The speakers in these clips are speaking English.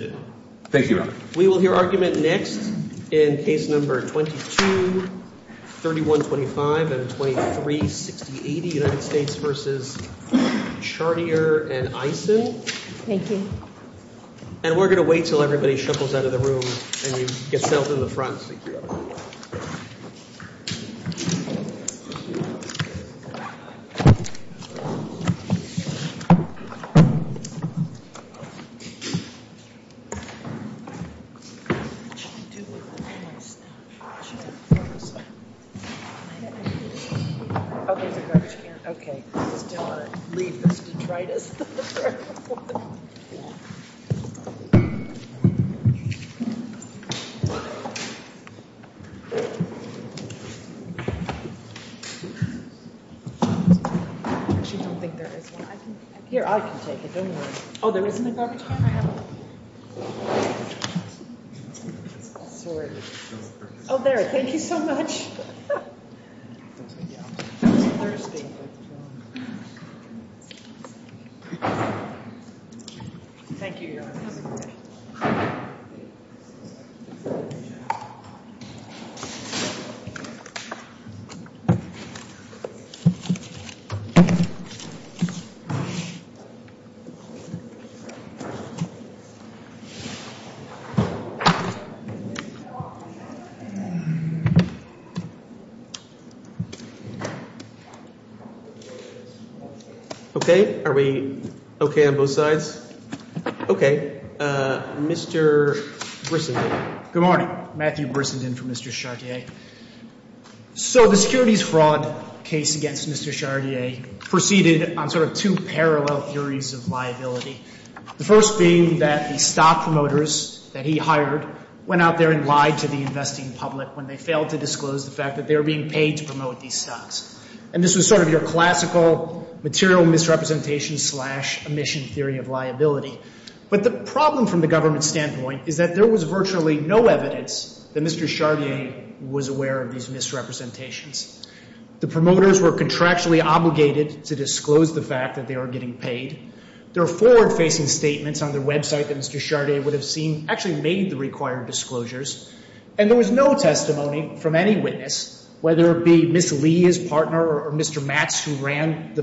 v. Eisen, and we're going to wait until everybody shuffles out of the room and you get settled in the front. We're going to wait until everybody shuffles out of the room and you get settled in the Okay, are we okay on both sides? Okay, Mr. Brisson. Good morning. Matthew Brisson from Mr. Chartier. So the securities fraud case against Mr. Chartier proceeded on sort of two parallel theories of liability. The first being that the stock promoters that he hired went out there and lied to the investing public when they failed to disclose the fact that they were being paid to promote these stocks. And this was sort of your classical material misrepresentation slash emission theory of liability. But the problem from the government standpoint is that there was virtually no evidence that Mr. Chartier was aware of these misrepresentations. The promoters were contractually obligated to disclose the fact that they were getting paid. There were forward-facing statements on their website that Mr. Chartier would have seen actually made the required disclosures, and there was no testimony from any witness, whether it be Ms. Lee, his partner, or Mr. Max, who ran the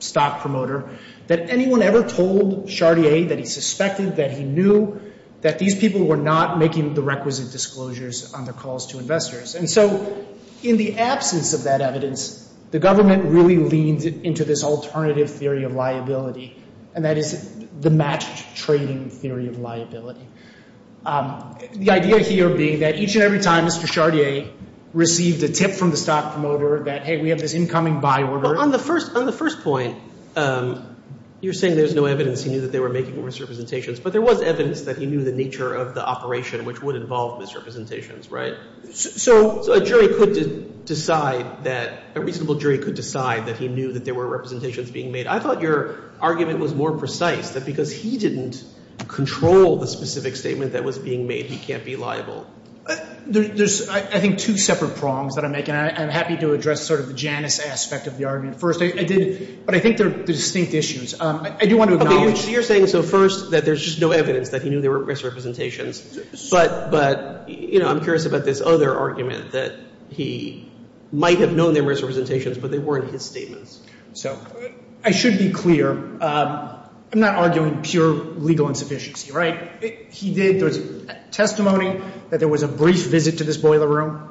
stock promoter, that anyone ever told Chartier that he suspected, that he knew, that these people were not making the requisite disclosures on the calls to investors. And so in the absence of that evidence, the government really leaned into this alternative theory of liability, and that is the matched trading theory of liability. The idea here being that each and every time Mr. Chartier received a tip from the stock promoter that, hey, we have this incoming buy order— But on the first point, you're saying there's no evidence he knew that they were making misrepresentations, but there was evidence that he knew the nature of the operation which would involve misrepresentations, right? So a jury could decide that—a reasonable jury could decide that he knew that there were representations being made. I thought your argument was more precise, that because he didn't control the specific statement that was being made, he can't be liable. There's, I think, two separate problems that I'm making. I'm happy to address sort of the Janice aspect of the argument first, but I think there are distinct issues. You're saying, so first, that there's just no evidence that he knew there were misrepresentations, but, you know, I'm curious about this other argument that he might have known there were misrepresentations, but they weren't his statements. So I should be clear. I'm not arguing pure legal insufficiency, right? He did the testimony that there was a brief visit to this boiler room,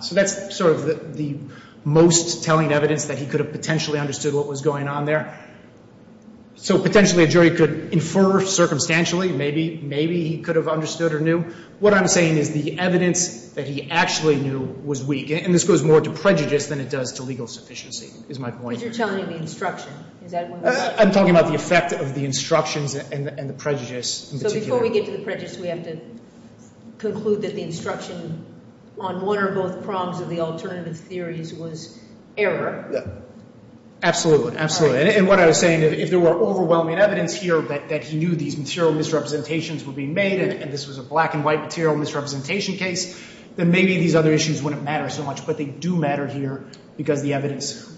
so that's sort of the most telling evidence that he could have potentially understood what was going on there. So potentially a jury could infer circumstantially, maybe he could have understood or knew. What I'm saying is the evidence that he actually knew was weak, and this goes more to prejudice than it does to legal sufficiency, is my point. But you're telling me the instruction. I'm talking about the effect of the instruction and the prejudice in particular. So before we get to prejudice, we have to conclude that the instruction on one or both prongs of the alternative theories was error. Absolutely, absolutely. And what I was saying is if there were overwhelming evidence here that he knew these material misrepresentations were being made, and this was a black and white material misrepresentation case, then maybe these other issues wouldn't matter so much. But they do matter here because the evidence was weak.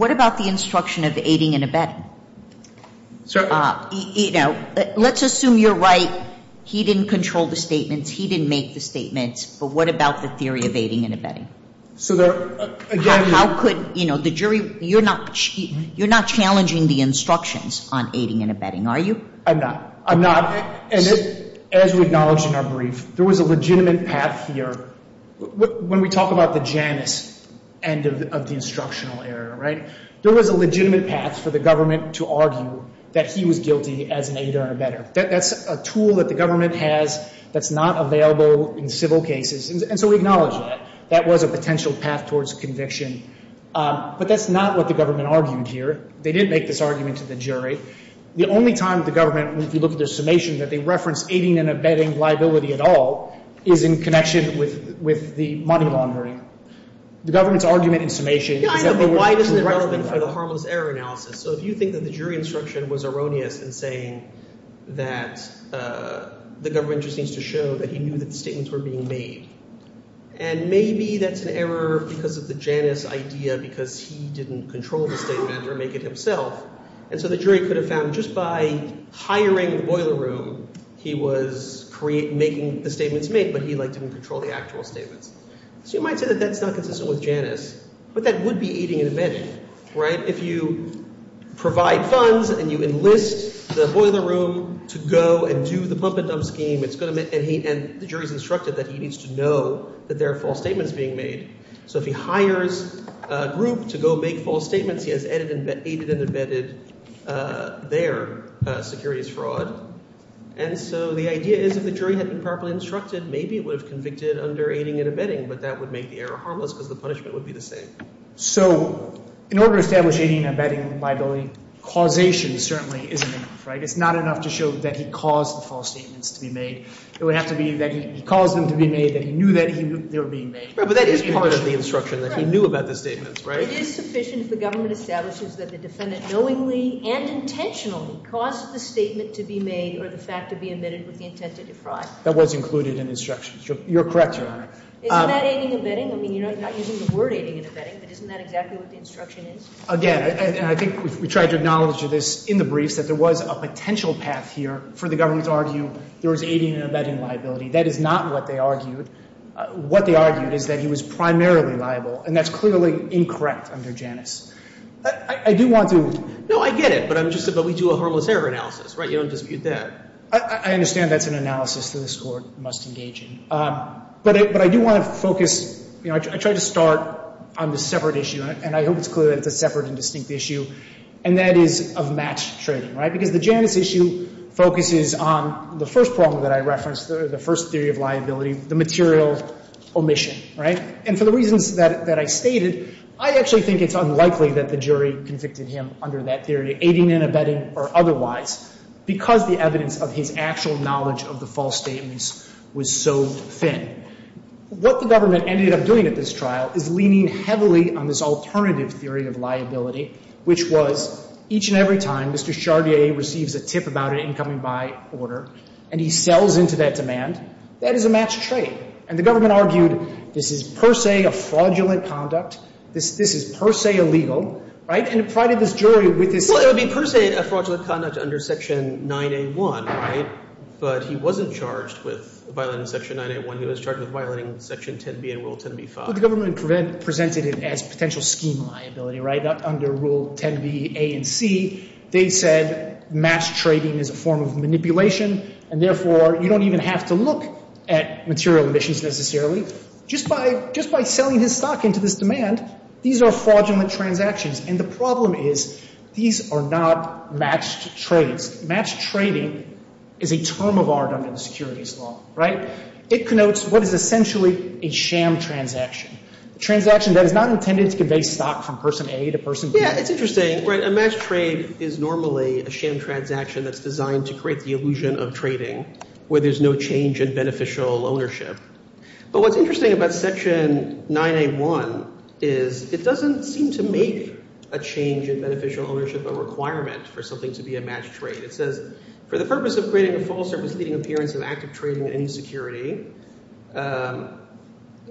What about the instruction of aiding and abetting? Let's assume you're right. He didn't control the statements. He didn't make the statements. But what about the theory of aiding and abetting? So again, you're not challenging the instructions on aiding and abetting, are you? I'm not. I'm not. And as we acknowledged in our brief, there was a legitimate path here. When we talk about the Janus end of the instructional era, right, there was a legitimate path for the government to argue that he was guilty as an aider and abetter. That's a tool that the government has that's not available in civil cases. And so we acknowledge that. That was a potential path towards conviction. But that's not what the government argued here. They didn't make this argument to the jury. The only time the government, if you look at the summation, that they referenced aiding and abetting liability at all is in connection with the money laundering. The government's argument in summation is that the law is irrelevant. But why is it relevant for the harmless error analysis? So if you think that the jury instruction was erroneous in saying that the government just needs to show that he knew that the statements were being made, and maybe that's an error because of the Janus idea because he didn't control the statements or make it himself. And so the jury could have found just by hiring a boiler room, he was making the statements he made, but he, like, didn't control the actual statements. So you might say that that's not consistent with Janus. But that would be aiding and abetting, right? If you provide funds and you enlist the boiler room to go and do the bump and dump scheme, and the jury's instructed that he needs to know that there are false statements being made. So if he hires a group to go make false statements, he has aided and abetted their superior fraud. And so the idea is that the jury had been properly instructed, maybe it was convicted under aiding and abetting, but that would make the error harmless because the punishment would be the same. So in order to establish aiding and abetting liability, causation certainly isn't enough, right? It's not enough to show that he caused the false statements to be made. It would have to be that he caused them to be made, that he knew that they were being made. Right, but that is part of the instruction, that he knew about the statements, right? If it is sufficient, the government establishes that the defendant knowingly and intentionally caused the statement to be made or the fact to be admitted with the intent to deprive. That was included in the instructions. You're correct, Your Honor. It's not aiding and abetting. I mean, you're not using the word aiding and abetting, but isn't that exactly what the instruction is? Again, and I think we tried to acknowledge this in the brief, that there was a potential path here for the government to argue there was aiding and abetting liability. That is not what they argued. What they argued is that he was primarily liable, and that's clearly incorrect under Janus. I do want to – No, I get it, but I'm just saying that we do a harmless error analysis, right? You don't dispute that. I understand that's an analysis that this Court must engage in. But I do want to focus – you know, I tried to start on this separate issue, and I hope it's clear that it's a separate and distinct issue, and that is a match-trigger, right? Because the Janus issue focuses on the first problem that I referenced, the first theory of liability, the material omission, right? And for the reasons that I stated, I actually think it's unlikely that the jury convicted him under that theory, aiding and abetting or otherwise, because the evidence of his actual knowledge of the false statements was so thin. What the government ended up doing at this trial is leaning heavily on this alternative theory of liability, which was each and every time Mr. Chartier receives a tip about an incoming buy order and he sells into that demand, that is a match-trigger. And the government argued this is per se a fraudulent conduct, this is per se illegal, right? And it provided this jury with this – Well, it would be per se a fraudulent conduct under Section 9A1, right? But he wasn't charged with violating Section 9A1. He was charged with violating Section 10B and Rule 10B-5. Well, the government presented it as potential scheme liability, right? Under Rule 10B-A and C, they said mass trading is a form of manipulation, and therefore you don't even have to look at material emissions necessarily. Just by selling his stock into this demand, these are fraudulent transactions. And the problem is these are not matched trades. Matched trading is a term of art under the Securities Law, right? It connotes what is essentially a sham transaction, a transaction that is not intended to convey stock from person A to person B. Yeah, it's interesting. A matched trade is normally a sham transaction that's designed to create the illusion of trading where there's no change in beneficial ownership. But what's interesting about Section 9A1 is it doesn't seem to make a change in beneficial ownership or requirements for something to be a matched trade. It says, for the purpose of creating a false or misleading appearance of active trading or insecurity, then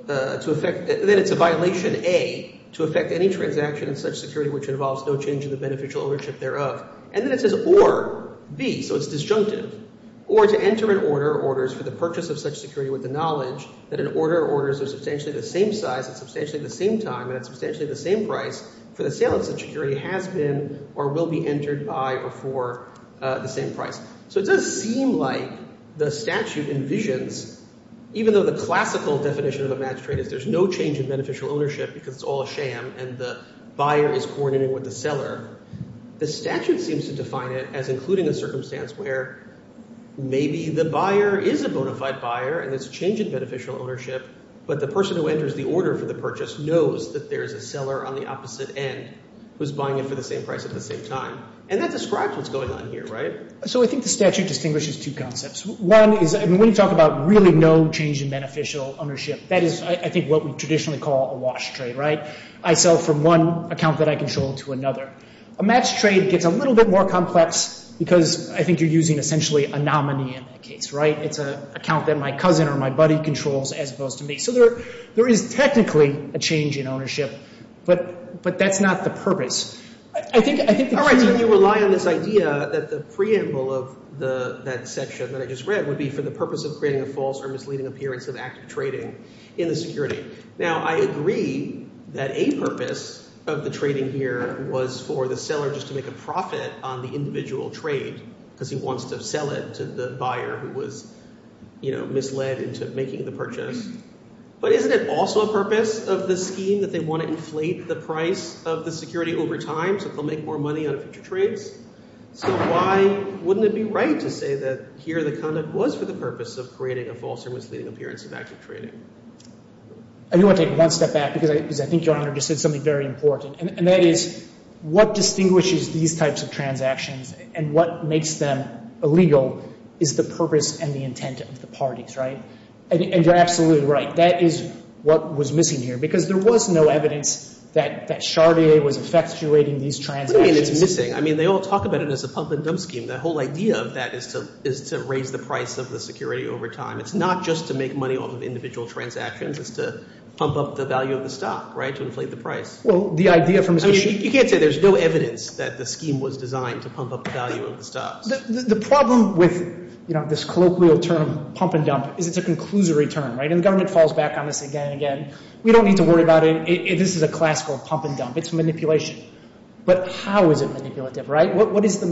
it's a violation, A, to affect any transaction in such security which involves no change in the beneficial ownership thereof. And then it says, or, B, so it's disjunctive, or to enter an order or orders for the purpose of such security with the knowledge that an order or orders of substantially the same size and substantially the same time and substantially the same price for the sale of such security has been or will be entered by or for the same price. So it doesn't seem like the statute envisions, even though the classical definition of a matched trade is there's no change in beneficial ownership because it's all a sham and the buyer is coordinating with the seller, the statute seems to define it as including a circumstance where maybe the buyer is a bona fide buyer and there's a change in beneficial ownership, but the person who enters the order for the purchase knows that there's a seller on the opposite end who's buying it for the same price at the same time. And that describes what's going on here, right? So I think the statute distinguishes two concepts. One is when you talk about really no change in beneficial ownership, that is, I think, what we traditionally call a wash trade, right? I sell from one account that I control to another. A matched trade gets a little bit more complex because I think you're using essentially a nominee in that case, right? It's an account that my cousin or my buddy controls as opposed to me. So there is technically a change in ownership, but that's not the purpose. I think the purpose of this idea that the preamble of that section that I just read would be for the purpose of creating a false or misleading appearance of active trading in the security. Now, I agree that a purpose of the trading here was for the seller just to make a profit on the individual trade because he wants to sell it to the buyer who was, you know, misled into making the purchase. But isn't it also a purpose of this scheme that they want to inflate the price of the security over time so they'll make more money out of the trades? So why wouldn't it be right to say that here the conduct was for the purpose of creating a false or misleading appearance of active trading? I do want to take one step back because I think John just said something very important, and that is what distinguishes these types of transactions and what makes them illegal is the purpose and the intent of the parties, right? And you're absolutely right. That is what was missing here because there was no evidence that Charlier was effectuating these transactions. What do you mean it's missing? I mean, they all talk about it as a pump and dump scheme. The whole idea of that is to raise the price of the security over time. It's not just to make money off of individual transactions. It's to pump up the value of the stock, right, to inflate the price. You can't say there's no evidence that the scheme was designed to pump up the value of the stock. The problem with this colloquial term, pump and dump, is it's a conclusory term, right? And the government falls back on this again and again. We don't need to worry about it. This is a classical pump and dump. It's manipulation. But how is it manipulative, right? What is the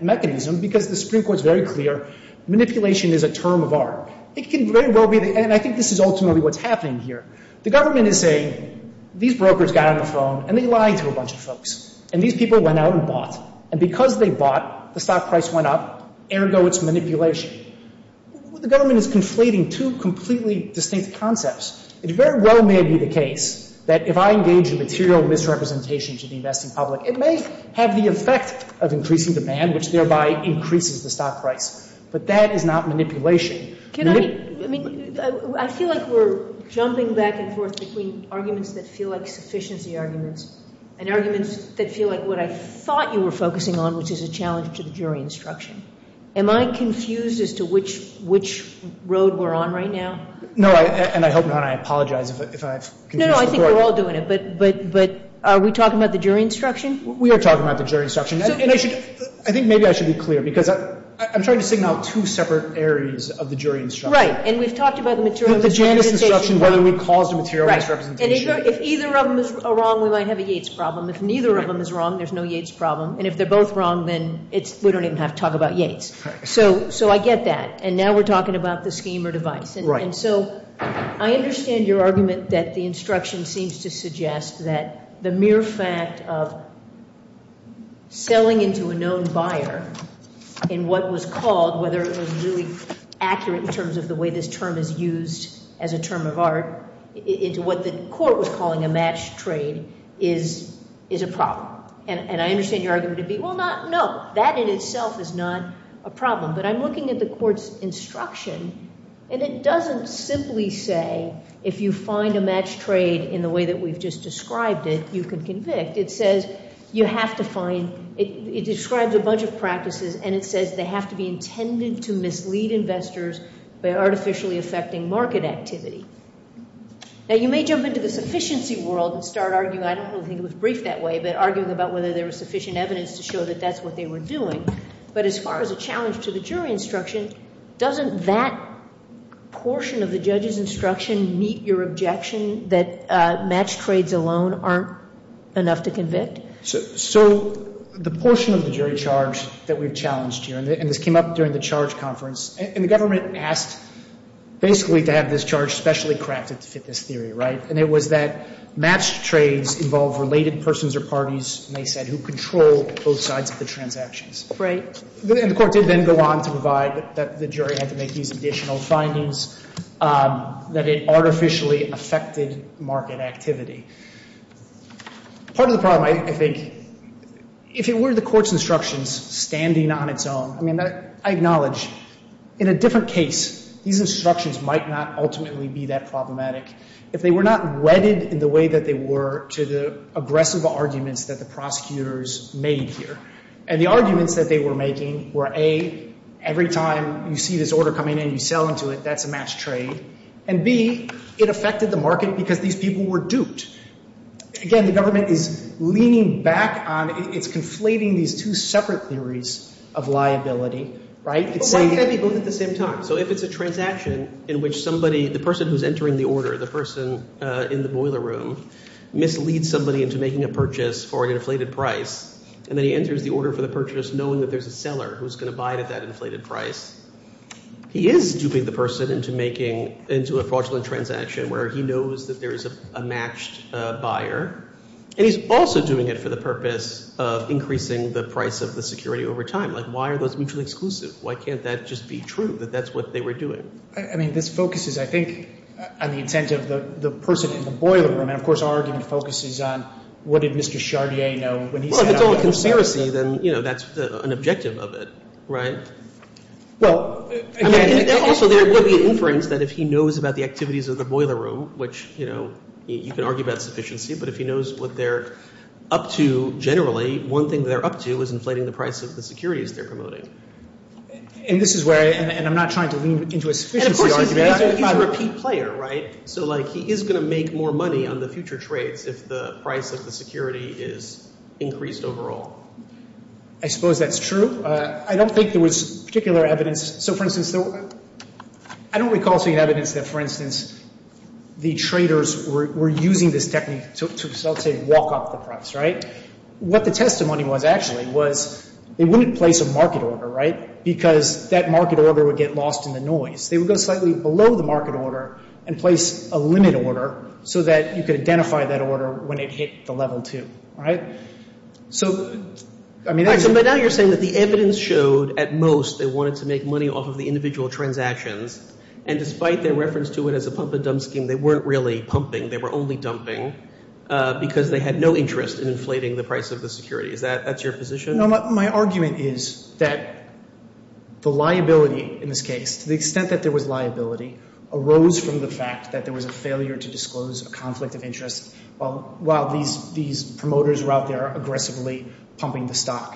mechanism? Because the Supreme Court is very clear, manipulation is a term of art. And I think this is ultimately what's happening here. The government is saying, these brokers got on the throne and they lied to a bunch of folks. And these people went out and bought. And because they bought, the stock price went up, even though it's manipulation. The government is conflating two completely distinct concepts. It very well may be the case that if I engage with material misrepresentation to the investing public, it may have the effect of increasing demand, which thereby increases the stock price. But that is not manipulation. I feel like we're jumping back and forth between arguments that feel like sufficiency arguments and arguments that feel like what I thought you were focusing on, which is a challenge to the jury instruction. Am I confused as to which road we're on right now? No, and I hope not. I apologize if I confuse you. No, I think we're all doing it. But are we talking about the jury instruction? We are talking about the jury instruction. I think maybe I should be clear, because I'm trying to signal two separate areas of the jury instruction. Right, and we've talked about the material misrepresentation. The jury instruction, whether we cause material misrepresentation. Right, and if either of them is wrong, then I have a Yates problem. If neither of them is wrong, there's no Yates problem. And if they're both wrong, then we don't even have to talk about Yates. So I get that. And now we're talking about the scheme or device. And so I understand your argument that the instruction seems to suggest that the mere fact of selling into a known buyer in what was called, whether it was really accurate in terms of the way this term is used as a term of art, is what the court was calling a match trade, is a problem. And I understand your argument to be, well, no. That in itself is not a problem. But I'm looking at the court's instruction, and it doesn't simply say, if you find a match trade in the way that we've just described it, you can convict. It says you have to find, it describes a bunch of practices, and it says they have to be intended to mislead investors by artificially affecting market activity. Now, you may jump into the sufficiency world and start arguing, I don't think it was briefed that way, but arguing about whether there was sufficient evidence to show that that's what they were doing. But as far as a challenge to the jury instruction, doesn't that portion of the judge's instruction meet your objection that match trades alone aren't enough to convict? So, the portion of the jury charge that we challenged here, and this came up during the charge conference, and the government asked basically to have this charge specially crafted to fit this theory, right? And it was that match trades involve related persons or parties, and they said, who control both sides of the transactions. Right. And the court did then go on to provide that the jury had to make these additional findings that it artificially affected market activity. Part of the problem, I think, if it were the court's instructions standing on its own, I mean, I acknowledge, in a different case, these instructions might not ultimately be that problematic if they were not wedded in the way that they were to the abrasive arguments that the prosecutors made here. And the arguments that they were making were A, every time you see this order coming in, you sell into it, that's a match trade. And B, it affected the market because these people were duped. Again, the government is leaning back on, it's conflating these two separate theories of liability, right? But why can't they do it at the same time? So, if it's a transaction in which somebody, the person who's entering the order, the person in the boiler room, misleads somebody into making a purchase for an inflated price, and then he enters the order for the purchase knowing that there's a seller who's going to buy at that inflated price, he is duping the person into making, into a fraudulent transaction where he knows that there's a matched buyer. And he's also doing it for the purpose of increasing the price of the security over time. Like, why are those mutually exclusive? Why can't that just be true that that's what they were doing? I mean, this focuses, I think, on the intent of the person in the boiler room. And, of course, our argument focuses on what did Mr. Chartier know when he found out... Well, if it's all a conspiracy, then, you know, that's an objective of it, right? Well... I mean, and also there would be an inference that if he knows about the activities of the boiler room, which, you know, you can argue about sufficiency, but if he knows what they're up to generally, one thing they're up to is inflating the price of the securities they're promoting. And this is where I, and I'm not trying to lean into a sufficiency argument, I'm just trying to be a key player, right? So, like, he is going to make more money on the future trade if the price of the security is increased overall. I suppose that's true. I don't think there was particular evidence. So, for instance, I don't recall seeing evidence that, for instance, the traders were using this technique to, let's say, walk off the price, right? What the testimony was, actually, was they wouldn't place a market order, right? Because that market order would get lost in the noise. They would go slightly below the market order and place a limit order so that you could identify that order when it hit the level two, right? So, I mean, I... So, but now you're saying that the evidence showed, at most, they wanted to make money off of the individual transactions, and despite their reference to it as a pump-and-dump scheme, they weren't really pumping. They were only dumping because they had no interest in inflating the price of the security. That's your position? No, my argument is that the liability, in this case, to the extent that there was liability, arose from the fact that there was a failure to disclose a conflict of interest while these promoters were out there aggressively pumping the stock.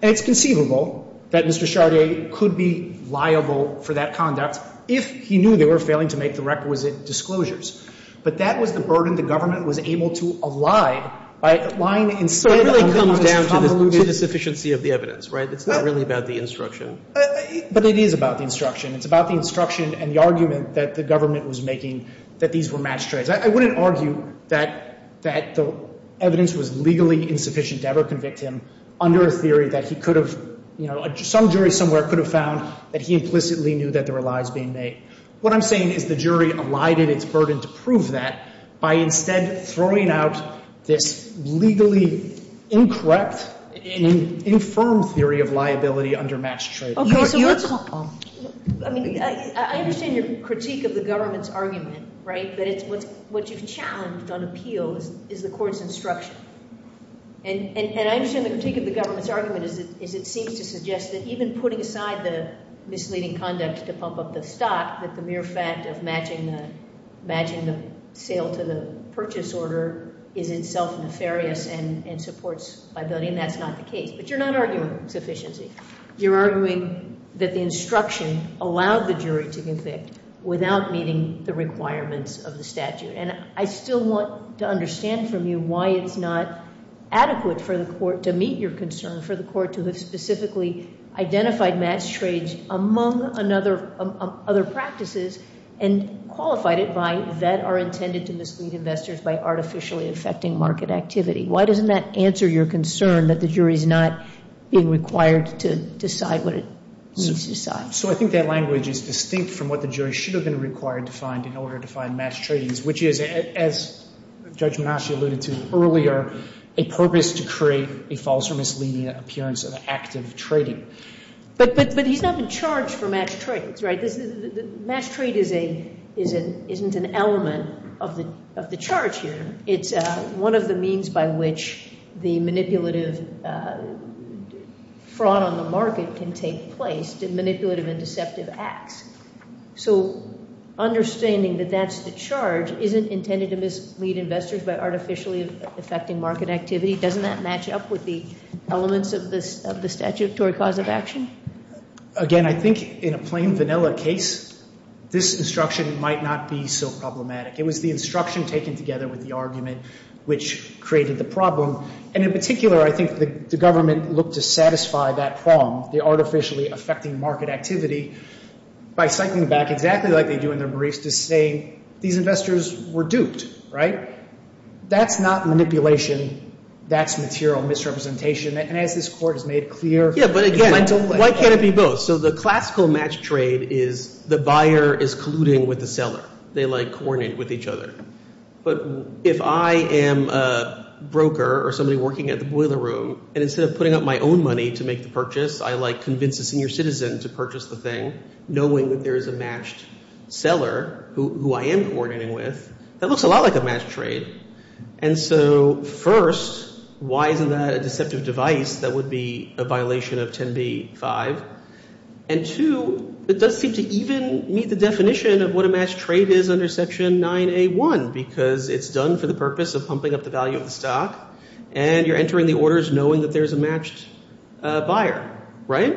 And it's conceivable that Mr. Chardet could be liable for that conduct if he knew they were failing to make the requisite disclosures. But that was the burden the government was able to allay by lying... So, it really comes down to the sufficiency of the evidence, right? It's not really about the instruction. But it is about the instruction. It's about the instruction and the argument that the government was making that these were matched trades. I wouldn't argue that the evidence was legally insufficient to ever convict him under a theory that he could have... Some jury somewhere could have found that he implicitly knew that there were lies being made. What I'm saying is the jury lied and it's burdened to prove that by instead throwing out this legally incorrect and infirm theory of liability under matched trades. I understand your critique of the government's argument, right? But what you've challenged on appeal is the court's instruction. And I understand the critique of the government's argument is it seems to suggest that even putting aside the misleading conduct to pump up the stock, the mere fact of matching the sale to the purchase order is itself nefarious and supports liability and that's not the case. But you're not arguing sufficiency. You're arguing that the instruction allowed the jury to convict without meeting the requirements of the statute. And I still want to understand from you why it's not adequate for the court to meet your concern for the court to have specifically identified matched trades among other practices and qualified it by that are intended to mislead investors by artificially affecting market activity. Why doesn't that answer your concern that the jury's not being required to decide what it needs to decide? So I think that language is distinct from what the jury should have been required to find in order to find matched trades which is, as Judge Massey alluded to earlier, a purpose to create a false or misleading appearance of active trading. But he's not in charge for matched trades, right? Matched trade isn't an element of the charge here. It's one of the means by which the manipulative fraud on the market can take place in manipulative and deceptive acts. So understanding that that's the charge isn't intended to mislead investors by artificially affecting market activity. Doesn't that match up with the elements of the statutory cause of action? Again, I think in a plain vanilla case this instruction might not be so problematic. It was the instruction taken together with the argument which created the problem. And in particular, I think the government looked to satisfy that flaw, the artificially affecting market activity, by citing the fact exactly like they do in their briefs to say these investors were duped, right? That's not manipulation. That's material misrepresentation. And as this court has made clear... Yeah, but again, why can't it be both? So the classical matched trade is the buyer is colluding with the seller. They coordinate with each other. But if I am a broker or somebody working at the boiler room and instead of putting up my own money to make the purchase, I like convince a senior citizen to purchase the thing knowing that there is a matched seller who I am coordinating with, that looks a lot like a matched trade. And so first, why is that a deceptive device that would be a violation of 10b-5? And two, it does seem to even meet the definition of what a matched trade is under Section 9A-1 because it's done for the purpose of pumping up the value of the stock and you're entering the orders knowing that there's a matched buyer, right?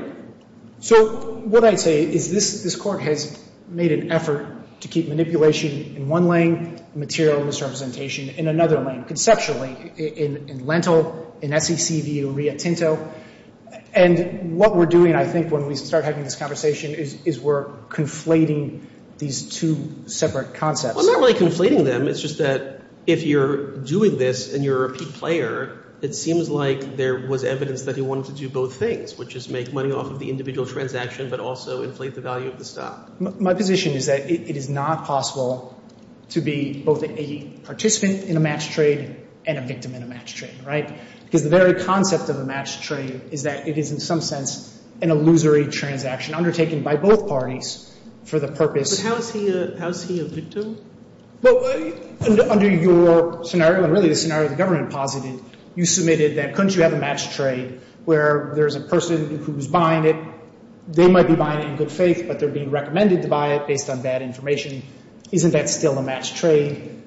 So what I'd say is this court has made an effort to keep manipulation in one lane, material misrepresentation in another lane, conceptually, in rental, in FCC, VU, RIA, Tinto. And what we're doing, I think, when we start having this conversation is we're conflating these two separate concepts. We're not really conflating them. It's just that if you're doing this and you're a key player, it seems like there was evidence that he wanted to do both things, which is make money off of the individual transaction but also inflate the value of the stock. My position is that it is not possible to be both a participant in a matched trade and a victim in a matched trade, right? Because the very concept of a matched trade is that it is, in some sense, an illusory transaction undertaken by both parties for the purpose... But how is he a victim? Well, under your scenario, and really the scenario the government posited, you submitted that couldn't you have a matched trade where there's a person who's buying it. They might be buying it in good faith, but they're being recommended to buy it based on bad information. Isn't that still a matched trade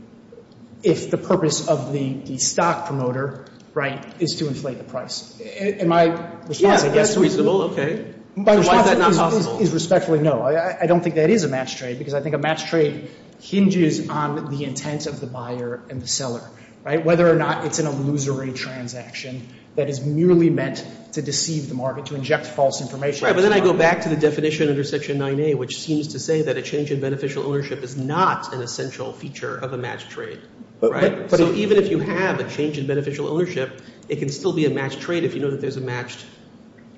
if the purpose of the stock promoter, right, is to inflate the price? Am I... Yeah, that's reasonable, okay. Why is that not possible? Respectfully, no. I don't think that is a matched trade because I think a matched trade hinges on the intent of the buyer and seller, right? Whether or not it's an illusory transaction that is merely meant to deceive the market, to inject false information. Right, but then I go back to the definition under Section 9A, which seems to say that a change in beneficial ownership is not an essential feature of a matched trade. Okay. But even if you have a change in beneficial ownership, it can still be a matched trade if you do it as a matched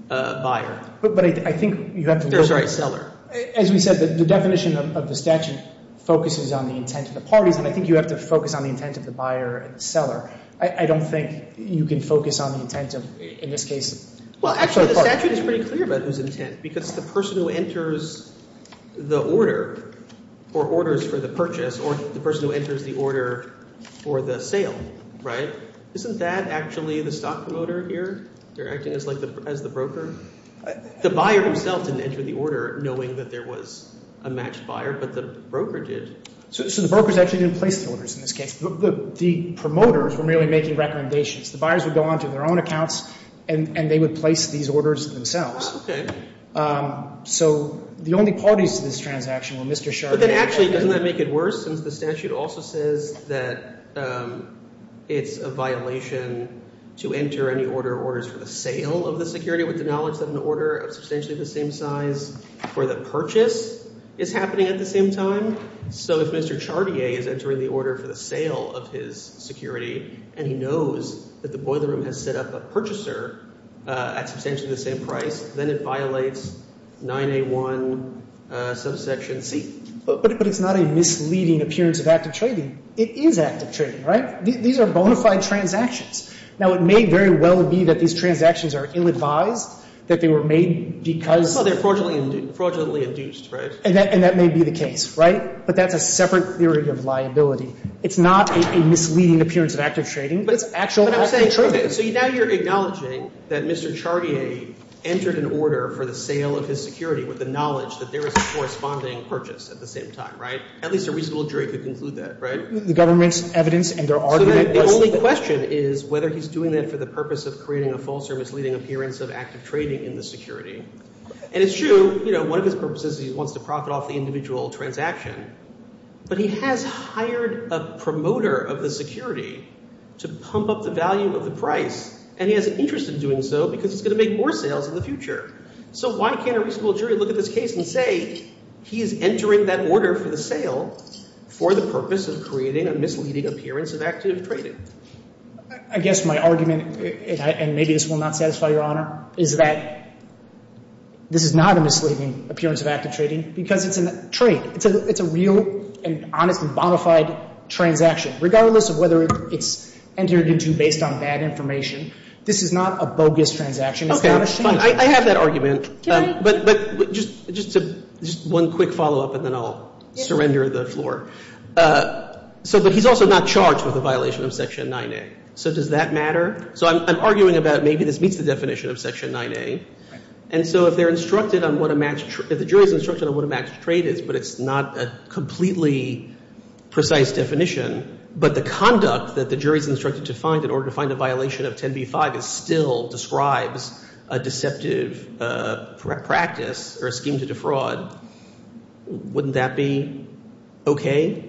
buyer. But I think you have to... Sorry, seller. As you said, the definition of the statute focuses on the intent of the parties, but I think you have to focus on the intent of the buyer and seller. I don't think you can focus on the intent of, in this case... Well, actually, it's pretty clear about this intent because the person who enters the order or orders for the purchase or the person who enters the order for the sale, right, isn't that actually the stock promoter here? They're acting as the broker? The buyer himself didn't enter the order knowing that there was a matched buyer, but the broker did. So the broker's actually going to place the orders in this case. Look, the promoters were merely making recommendations. The buyers would go onto their own accounts and they would place these orders themselves. Okay. So the only parties to this transaction were Mr. Sherman... But then actually, doesn't that make it worse? It also says that it's a violation to enter any order orders for the sale of the security with the knowledge that an order of substantially the same size for the purchase is happening at the same time. So if Mr. Chartier is entering the order for the sale of his security and he knows that the boiler room has set up a purchaser at substantially the same price, then it violates 9A1 subsection C. But it's not a misleading appearance of active trading. It is active trading, right? These are bona fide transactions. Now, it may very well be that these transactions are ill-advised, that they were made because... No, they're fraudulently induced, right? And that may be the case, right? But that's a separate theory of liability. It's not a misleading appearance of active trading, but it's actually... So now you're acknowledging that Mr. Chartier entered an order for the sale of his security with the knowledge that there was a corresponding purchase at the same time, right? At least a reasonable jury could conclude that, right? The government's evidence and their argument... The only question is whether he's doing that for the purpose of creating a false or misleading appearance of active trading in the security. And it's true, one of his purposes is he wants to profit off the individual transaction. But he has hired a promoter of the security to pump up the value of the price. And he has an interest in doing so because he's gonna make more sales in the future. So why can't a reasonable jury look at this case and say he is entering that order for the sale for the purpose of creating a misleading appearance of active trading? I guess my argument, and maybe this will not satisfy Your Honor, is that this is not a misleading appearance of active trading because it's a trade. It's a real and honestly bona fide transaction. Regardless of whether it's entered into based on bad information, this is not a bogus transaction. Okay, fine, I have that argument. But just one quick follow-up and then I'll surrender the floor. So, but he's also not charged with the violation of Section 9A. So does that matter? So I'm arguing about maybe this meets the definition of Section 9A. And so if they're instructed on what a matched, if the jury's instructed on what a matched trade is, but it's not a completely precise definition, but the conduct that the jury's instructed to find in order to find the violation of 10b-5 still describes a deceptive practice or a scheme to defraud, wouldn't that be okay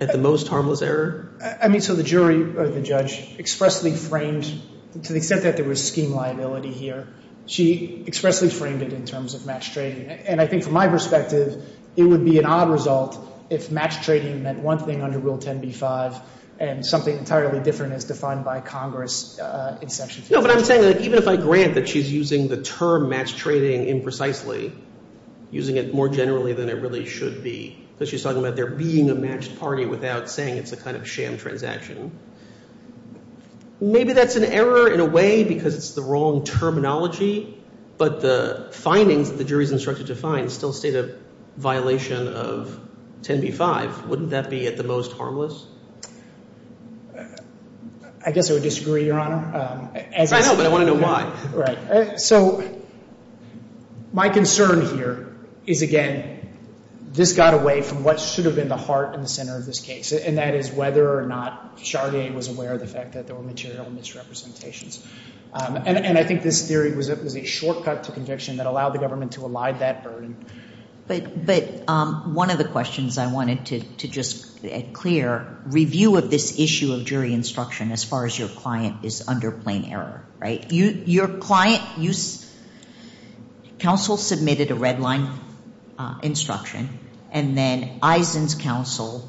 at the most harmless error? I mean, so the jury or the judge expressly framed, to the extent that there was scheme liability here, she expressly framed it in terms of matched trading. And I think from my perspective, it would be an odd result if matched trading meant one thing under Rule 10b-5 and something entirely different than is defined by Congress in Section 10. No, but I'm saying that even if I grant that she's using the term matched trading imprecisely, using it more generally than it really should be, but she's talking about there being a matched party without saying it's a kind of sham transaction, maybe that's an error in a way because it's the wrong terminology, but the findings that the jury's instructed to find still state a violation of 10b-5. Wouldn't that be at the most harmless? I guess I would disagree, Your Honor. I know, but I wanted to know why. So my concern here is, again, this got away from what should have been the heart and center of this case, and that is whether or not Charlier was aware of the fact that there were material misrepresentations. And I think this theory was a shortcut to conviction that allowed the government to elide that burden. But one of the questions I wanted to just clear, review of this issue of jury instruction as far as your client is under plain error. Your client, counsel submitted a red line instruction, and then Eisen's counsel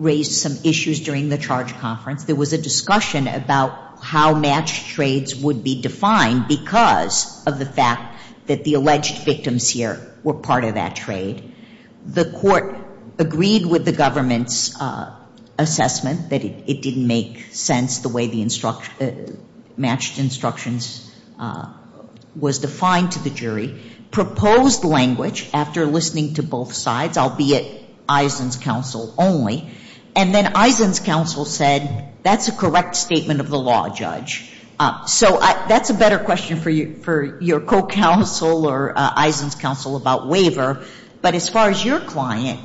raised some issues during the charge conference. There was a discussion about how matched trades would be defined because of the fact that the alleged victims here were part of that trade. The court agreed with the government's assessment that it didn't make sense the way the matched instructions was defined to the jury, proposed language after listening to both sides, albeit Eisen's counsel only, and then Eisen's counsel said, that's a correct statement of the law, Judge. So that's a better question for your co-counsel or Eisen's counsel about waiver. But as far as your client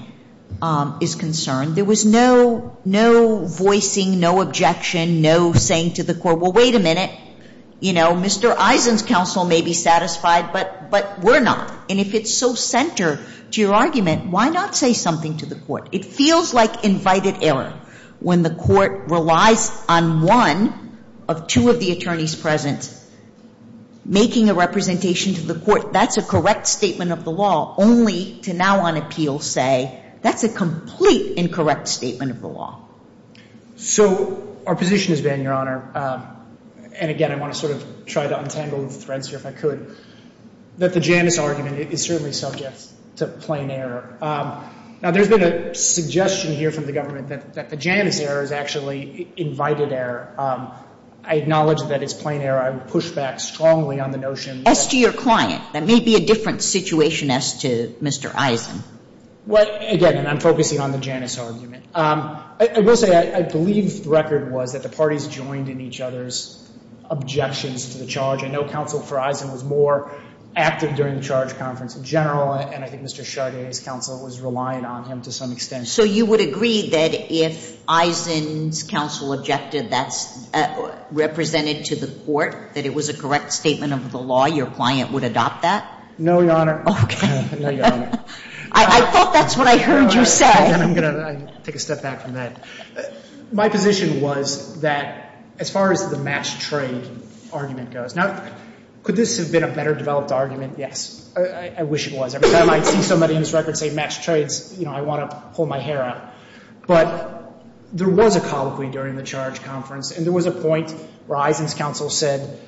is concerned, there was no voicing, no objection, no saying to the court, well, wait a minute. You know, Mr. Eisen's counsel may be satisfied, but we're not. And if it's so centered to your argument, why not say something to the court? It feels like invited error when the court relies on one of two of the attorneys present making a representation to the court, that's a correct statement of the law, only to now on appeal say, that's a complete incorrect statement of the law. So our position has been, Your Honor, and again, I want to sort of try to untangle the threads here if I could, that the Janus argument is certainly subject to plain error. Now, there's been a suggestion here from the government that the Janus error is actually invited error. I acknowledge that it's plain error. I would push back strongly on the notion. As to your client, that may be a different situation as to Mr. Eisen. Well, again, I'm focusing on the Janus argument. I will say, I believe the record was that the parties joined in each other's objections to the charge. I know counsel for Eisen was more active during the charge conference in general, and I think Mr. Sade's counsel was relying on him to some extent. So you would agree that if Eisen's counsel objected that's represented to the court, that it was a correct statement of the law, your client would adopt that? No, Your Honor. Okay. I thought that's what I heard you say. I'm going to take a step back from that. My position was that as far as the match trade argument goes, now, could this have been a better developed argument? Yes. I wish it was. Every time I see somebody in this record say match trades, I want to pull my hair out. But there was a colloquy during the charge conference, and there was a point where Eisen's counsel said,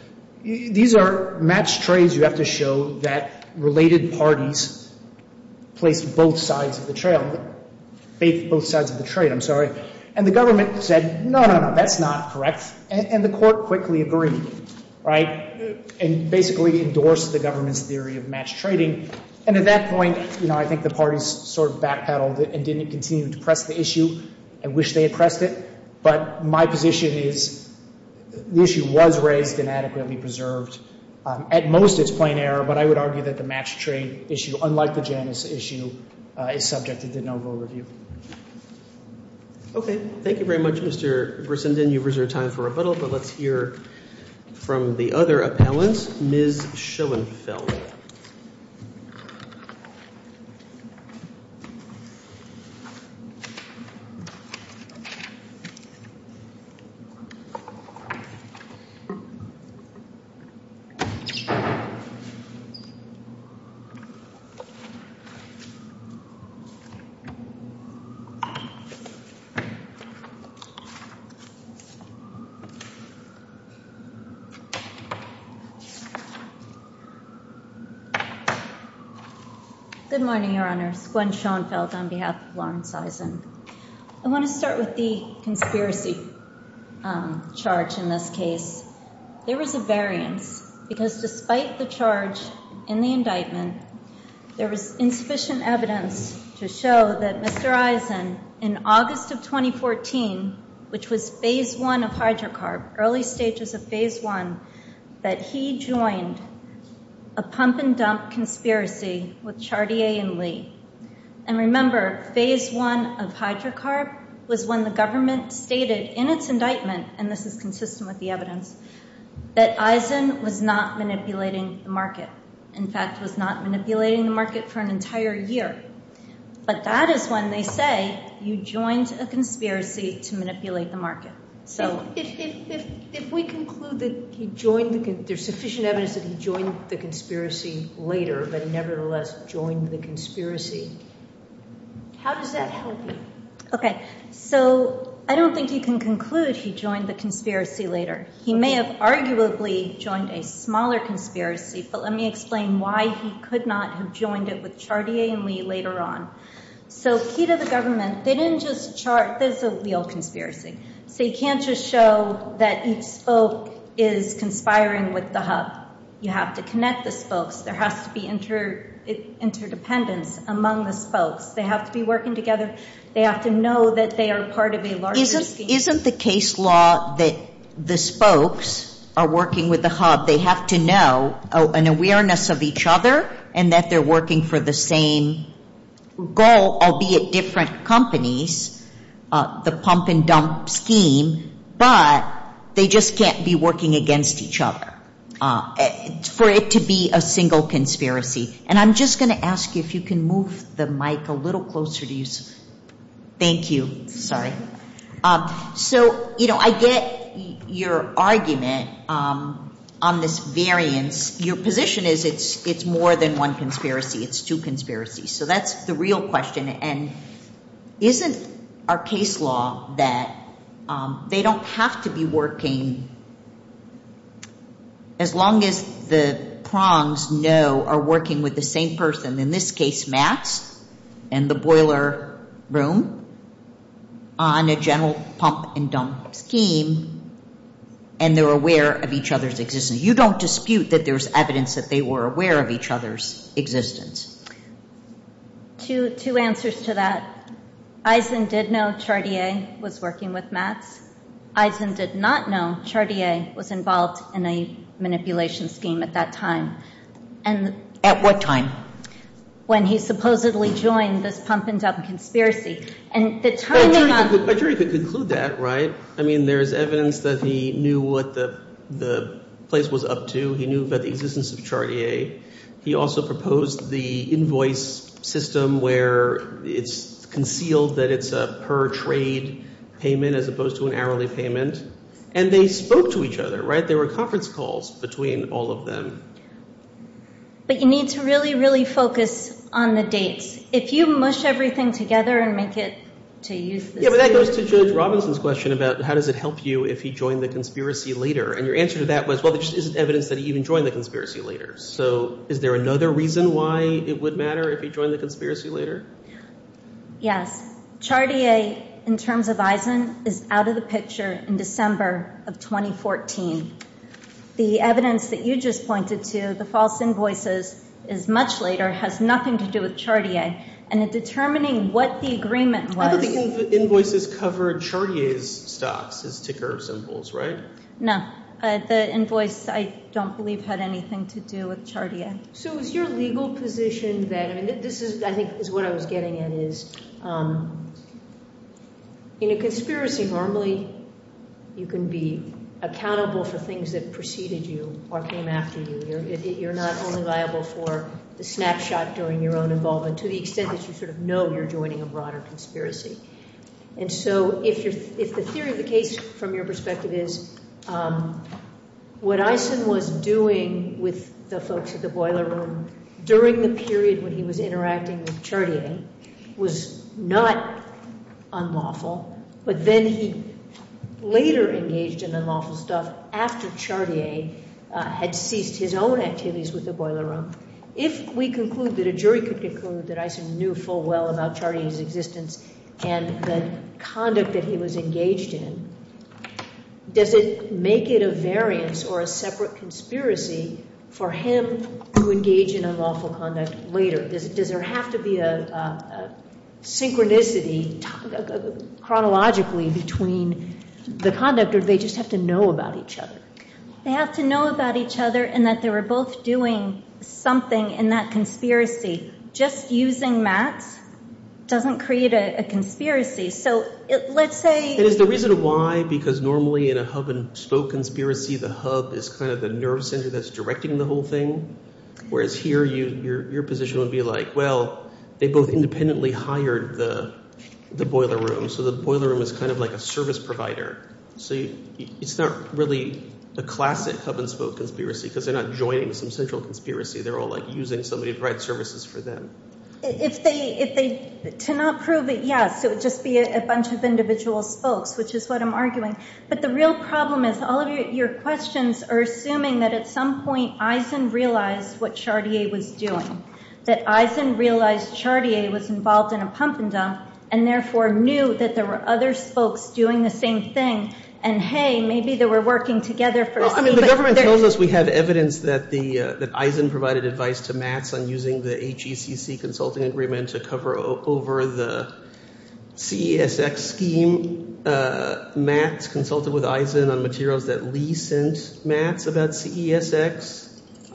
these are match trades you have to show that related parties played both sides of the trade. And the government said, no, no, no. That's not correct. And the court quickly agreed and basically endorsed the government's theory of match trading. And at that point, I think the parties sort of backpedaled and didn't continue to press the issue. I wish they had pressed it. But my position is the issue was raised and adequately preserved. At most, it's plain error. But I would argue that the match trade issue, unlike the Janus issue, is subject to denominal review. Okay. Thank you very much, Mr. Brissenden. You've reserved time for rebuttal. But let's hear from the other appellant, Ms. Schoenfeld. Good morning, Your Honor. Gwen Schoenfeld on behalf of Lawrence Eisen. I want to start with the conspiracy charge in this case. There was a variance because despite the charge and the indictment, there was insufficient evidence to show that Mr. Eisen, in August of 2014, which was phase one of hydrocarbons, early stages of phase one, that he joined a pump and dump conspiracy with Chartier and Lee. And remember, phase one of hydrocarbons was when the government stated in its indictment, and this is consistent with the evidence, that Eisen was not manipulating the market. In fact, was not manipulating the market for an entire year. But that is when they say you joined a conspiracy to manipulate the market. If we conclude that there's sufficient evidence that he joined the conspiracy later, but nevertheless joined the conspiracy, how does that help you? OK. So I don't think you can conclude he joined the conspiracy later. He may have arguably joined a smaller conspiracy. But let me explain why he could not have joined it with Chartier and Lee later on. So key to the government, they didn't just This is a real conspiracy. They can't just show that each spoke is conspiring with the hub. You have to connect the spokes. There has to be interdependence among the spokes. They have to be working together. They have to know that they are part of a larger team. Isn't the case law that the spokes are working with the hub? They have to know an awareness of each other and that they're working for the same goal, albeit different companies, the pump and dump scheme. But they just can't be working against each other for it to be a single conspiracy. And I'm just going to ask you if you can move the mic a little closer to you. Thank you. Sorry. So I get your argument on this variance. Your position is it's more than one conspiracy. It's two conspiracies. So that's the real question. And isn't our case law that they don't have to be working as long as the prongs know are working with the same person, in this case, Mass and the boiler room, on a general pump and dump scheme, and they're aware of each other's existence. You don't dispute that there's evidence that they were aware of each other's existence. Two answers to that. Eisen did know Chartier was working with Mass. Eisen did not know Chartier was involved in a manipulation scheme at that time. At what time? When he supposedly joined this pump and dump conspiracy. I'm sure you could conclude that, right? I mean, there's evidence that he knew what the place was up to. He knew about the existence of Chartier. He also proposed the invoice system where it's concealed that it's a per-trade payment as opposed to an hourly payment. And they spoke to each other, right? There were conference calls between all of them. But you need to really, really focus on the date. If you mush everything together and make it to use... Yeah, but that goes to Robinson's question about how does it help you if he joined the conspiracy later. And your answer to that was, well, there's evidence that he even joined the conspiracy later. So is there another reason why it would matter if he joined the conspiracy later? Yeah. Chartier, in terms of Eisen, is out of the picture in December of 2014. The evidence that you just pointed to, the false invoices, is much later, has nothing to do with Chartier. And in determining what the agreement was... But the invoices covered Chartier's stuff, the ticker symbols, right? No. The invoice, I don't believe, had anything to do with Chartier. So is your legal position that... I think this is what I was getting at, is in a conspiracy, normally, you can be accountable for things that preceded you or came after you. You're not only liable for the snapshot during your own involvement, to the extent that you sort of know you're joining a broader conspiracy. And so if the theory of the case, from your perspective, is what Eisen was doing with the folks at the boiler room during the period when he was interacting with Chartier was not unlawful, but then he later engaged in unlawful stuff after Chartier had ceased his own activities with the boiler room. If we conclude that a jury could conclude that Eisen knew full well about Chartier's existence and the conduct that he was engaged in, does it make it a variance or a separate conspiracy for him to engage in unlawful conduct later? Does there have to be a synchronicity, chronologically, between the conduct or do they just have to know about each other? They have to know about each other and that they were both doing something in that conspiracy. Just using that doesn't create a conspiracy. So let's say... And the reason why, because normally in a hub-and-spoke conspiracy, the hub is kind of the nerve center that's directing the whole thing, whereas here your position would be like, well, they both independently hired the boiler room, so the boiler room is kind of like a service provider. So it's not really a classic hub-and-spoke conspiracy because they're not joining some central conspiracy. They're all using somebody to provide services for them. If they cannot prove it, yes, it would just be a bunch of individual spokes, which is what I'm arguing. But the real problem is all of your questions are assuming that at some point Eisen realized what Chartier was doing, that Eisen realized Chartier was involved in a pump-and-dump and therefore knew that there were other spokes doing the same thing, and hey, maybe they were working together for... In the government's windows, we have evidence that Eisen provided advice to Max on using the HECC consulting agreements to cover over the CESX scheme. Max consulted with Eisen on materials that recensed Max about CESX.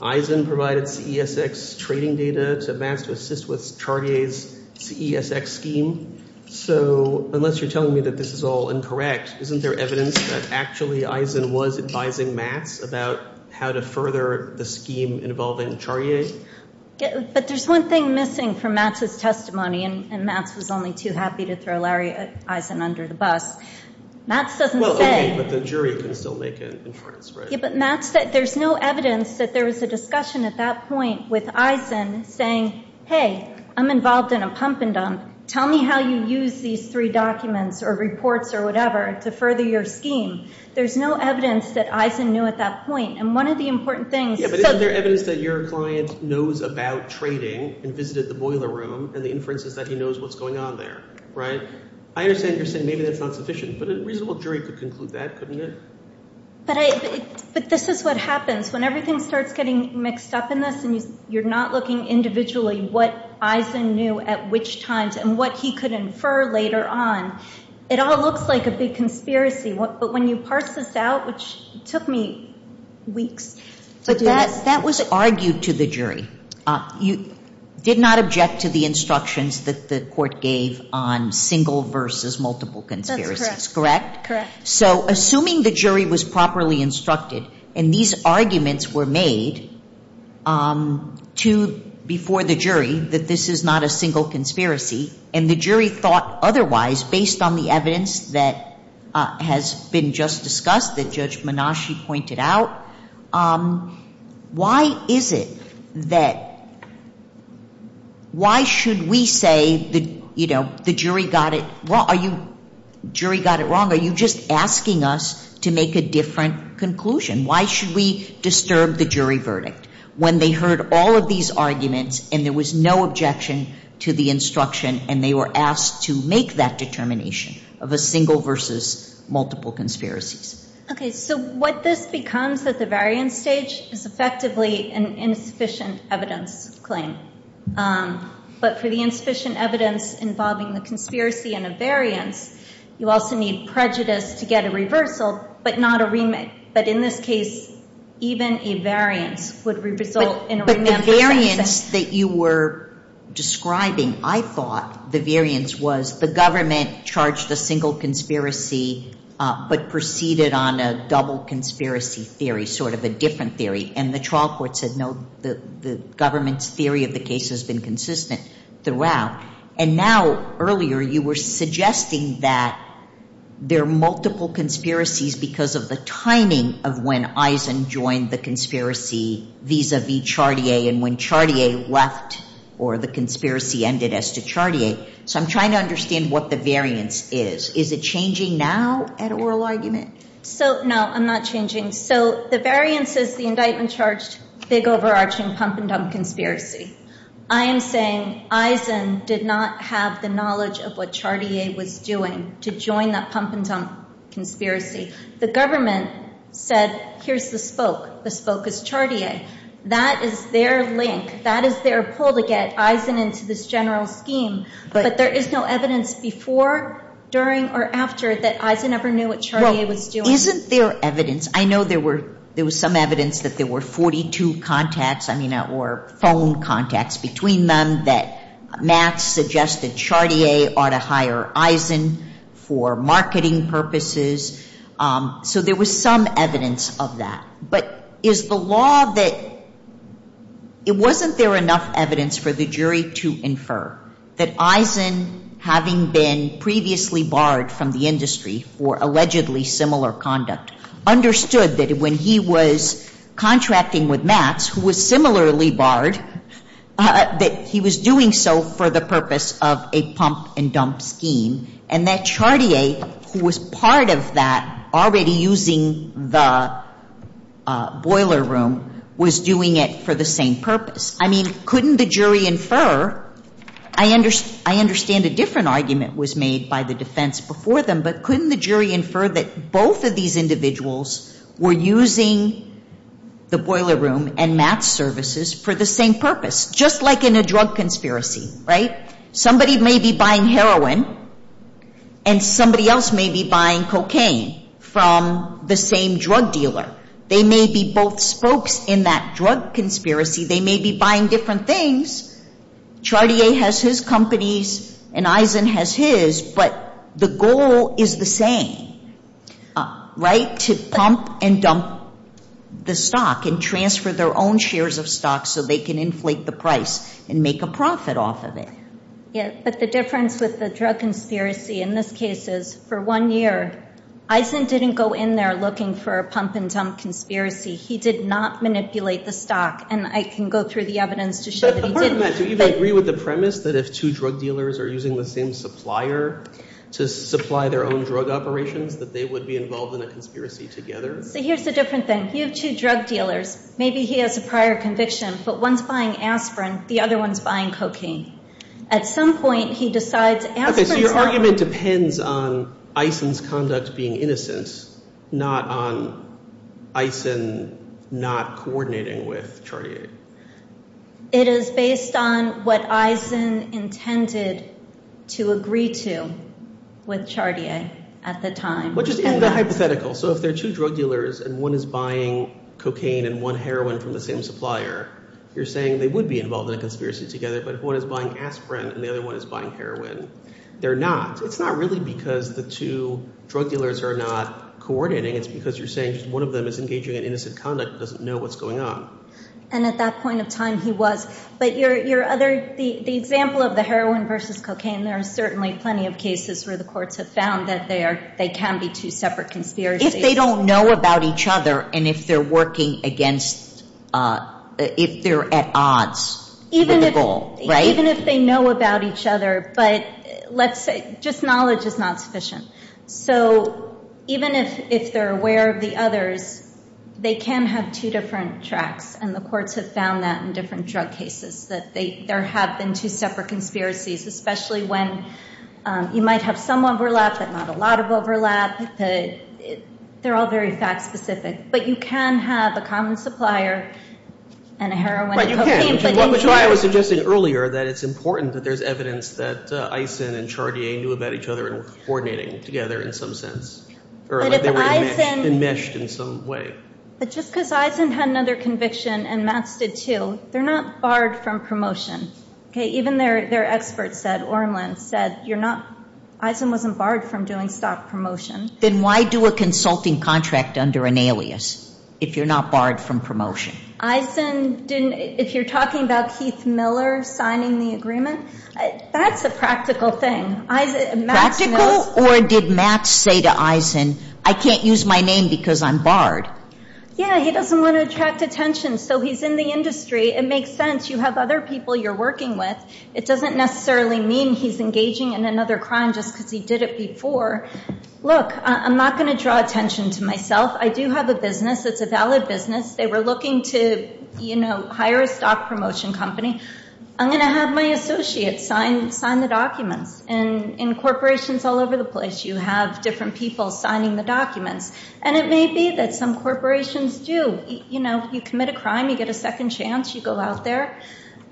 Eisen provided CESX training data to Max to assist with Chartier's CESX scheme. So unless you're telling me that this is all incorrect, isn't there evidence that actually Eisen was advising Max about how to further the scheme involving Chartier? But there's one thing missing from Max's testimony, and Max was only too happy to throw Larry Eisen under the bus. Max doesn't say... Well, okay, but the jury can still make an inference, right? Yeah, but Max said there's no evidence that there was a discussion at that point with Eisen saying, hey, I'm involved in a pump-and-dump. Tell me how you use these three documents or reports or whatever to further your scheme. There's no evidence that Eisen knew at that point. And one of the important things... Yeah, but isn't there evidence that your client knows about trading and visited the boiler room and the inference is that he knows what's going on there, right? I understand you're saying maybe that's not sufficient, but a reasonable jury could conclude that, couldn't it? But this is what happens. When everything starts getting mixed up in this and you're not looking individually what Eisen knew at which times and what he could infer later on, it all looks like a big conspiracy. But when you parse this out, which took me weeks, but that was argued to the jury. You did not object to the instructions that the court gave on single versus multiple conspiracies, correct? That's correct. So assuming the jury was properly instructed and these arguments were made before the jury that this is not a single conspiracy and the jury thought otherwise based on the evidence that has been just discussed, that Judge Menasci pointed out, why is it that, why should we say the jury got it wrong? Are you just asking us to make a different conclusion? Why should we disturb the jury verdict when they heard all of these arguments and there was no objection to the instruction and they were asked to make that determination of a single versus multiple conspiracy? Okay, so what this becomes at the variance stage is effectively an insufficient evidence claim. But for the insufficient evidence involving a conspiracy and a variance, you also need prejudice to get a reversal, but not a remix. But in this case, even a variance would result in a remix. But the variance that you were describing, I thought the variance was the government charged a single conspiracy but proceeded on a double conspiracy theory, sort of a different theory. And the trial court said no, the government's theory of the case has been consistent throughout. And now, earlier, you were suggesting that there are multiple conspiracies because of the timing of when Eisen joined the conspiracy vis-a-vis Chartier and when Chartier left or the conspiracy ended as to Chartier. So I'm trying to understand what the variance is. Is it changing now at oral argument? So, no, I'm not changing. So the variance is the indictment charged big, overarching, pump-and-dump conspiracy. I am saying Eisen did not have the knowledge of what Chartier was doing to join that pump-and-dump conspiracy. The government said, here's the spoke. The spoke is Chartier. That is their link. That is their pull to get Eisen into this general scheme but there is no evidence before, during, or after that Eisen ever knew what Chartier was doing. Isn't there evidence? I know there was some evidence that there were 42 contacts, I mean, or phone contacts between them that math suggested Chartier ought to hire Eisen for marketing purposes. So there was some evidence of that. But is the law that it wasn't there enough evidence for the jury to infer that Eisen, having been previously barred from the industry for allegedly similar conduct, understood that when he was contracting with math, who was similarly barred, that he was doing so for the purpose of a pump-and-dump scheme, and that Chartier, who was part of that, already using the boiler room, was doing it for the same purpose? I mean, couldn't the jury infer, I understand a different argument was made by the defense before them, but couldn't the jury infer that both of these individuals were using the boiler room and math services for the same purpose? Just like in a drug conspiracy, right? Somebody may be buying heroin and somebody else may be buying cocaine from the same drug dealer. They may be both spokes in that drug conspiracy, they may be buying different things. Chartier has his companies and Eisen has his, but the goal is the same, right? To pump and dump the stock and transfer their own shares of stock so they can inflate the price and make a profit off of it. Yes, but the difference with the drug conspiracy in this case is, for one year, Eisen didn't go in there looking for a pump-and-dump conspiracy. He did not manipulate the stock and I can go through the evidence to show... But the point is, do you agree with the premise that if two drug dealers are using the same supplier to supply their own drug operation, that they would be involved in a conspiracy together? But here's the difference then. You have two drug dealers. Maybe he has a prior conviction, but one's buying aspirin, the other one's buying cocaine. At some point, he decides... Okay, so your argument depends on Eisen's conduct being innocent, not on Eisen not coordinating with Chartier. It is based on what Eisen intended to agree to with Chartier at the time. Which is hypothetical. So if there are two drug dealers and one is buying cocaine and one heroin from the same supplier, you're saying they would be involved in a conspiracy together, but if one is buying aspirin and the other one is buying heroin, they're not. So it's not really because the two drug dealers are not coordinating. It's because you're saying one of them is engaging in innocent conduct and doesn't know what's going on. And at that point in time, he was. But the example of the heroin versus cocaine, there are certainly plenty of cases where the courts have found that they can be two separate conspiracies. If they don't know about each other and if they're working against... if they're at odds with the goal, right? Even if they know about each other, but just knowledge is not sufficient. So even if they're aware of the others, they can have two different tracks and the courts have found that in different drug cases, that there have been two separate conspiracies, especially when you might have some overlap but not a lot of overlap. They're all very fact specific. But you can have a common supplier and a heroin... Which is why I was suggesting earlier that it's important that there's evidence that Eisen and Chargier knew about each other and that they were coordinating together in some sense. Or that they were enmeshed in some way. It's just because Eisen had another conviction and Mass did too. They're not barred from promotion. Even their experts said, Orland said, Eisen wasn't barred from doing stock promotion. Then why do a consulting contract under an alias if you're not barred from promotion? Eisen didn't... If you're talking about Keith Miller signing the agreement, that's a practical thing. Practical? Or did Mass say to Eisen, I can't use my name because I'm barred? Yeah, he doesn't want to attract attention. So he's in the industry. It makes sense. You have other people you're working with. It doesn't necessarily mean he's engaging in another crime just because he did it before. Look, I'm not going to draw attention to myself. I do have a business. It's a valid business. They were looking to hire a stock promotion company. I'm going to have my associates sign the documents in corporations all over the place. You have different people signing the documents. And it may be that some corporations do. You know, if you commit a crime, you get a second chance, you go out there,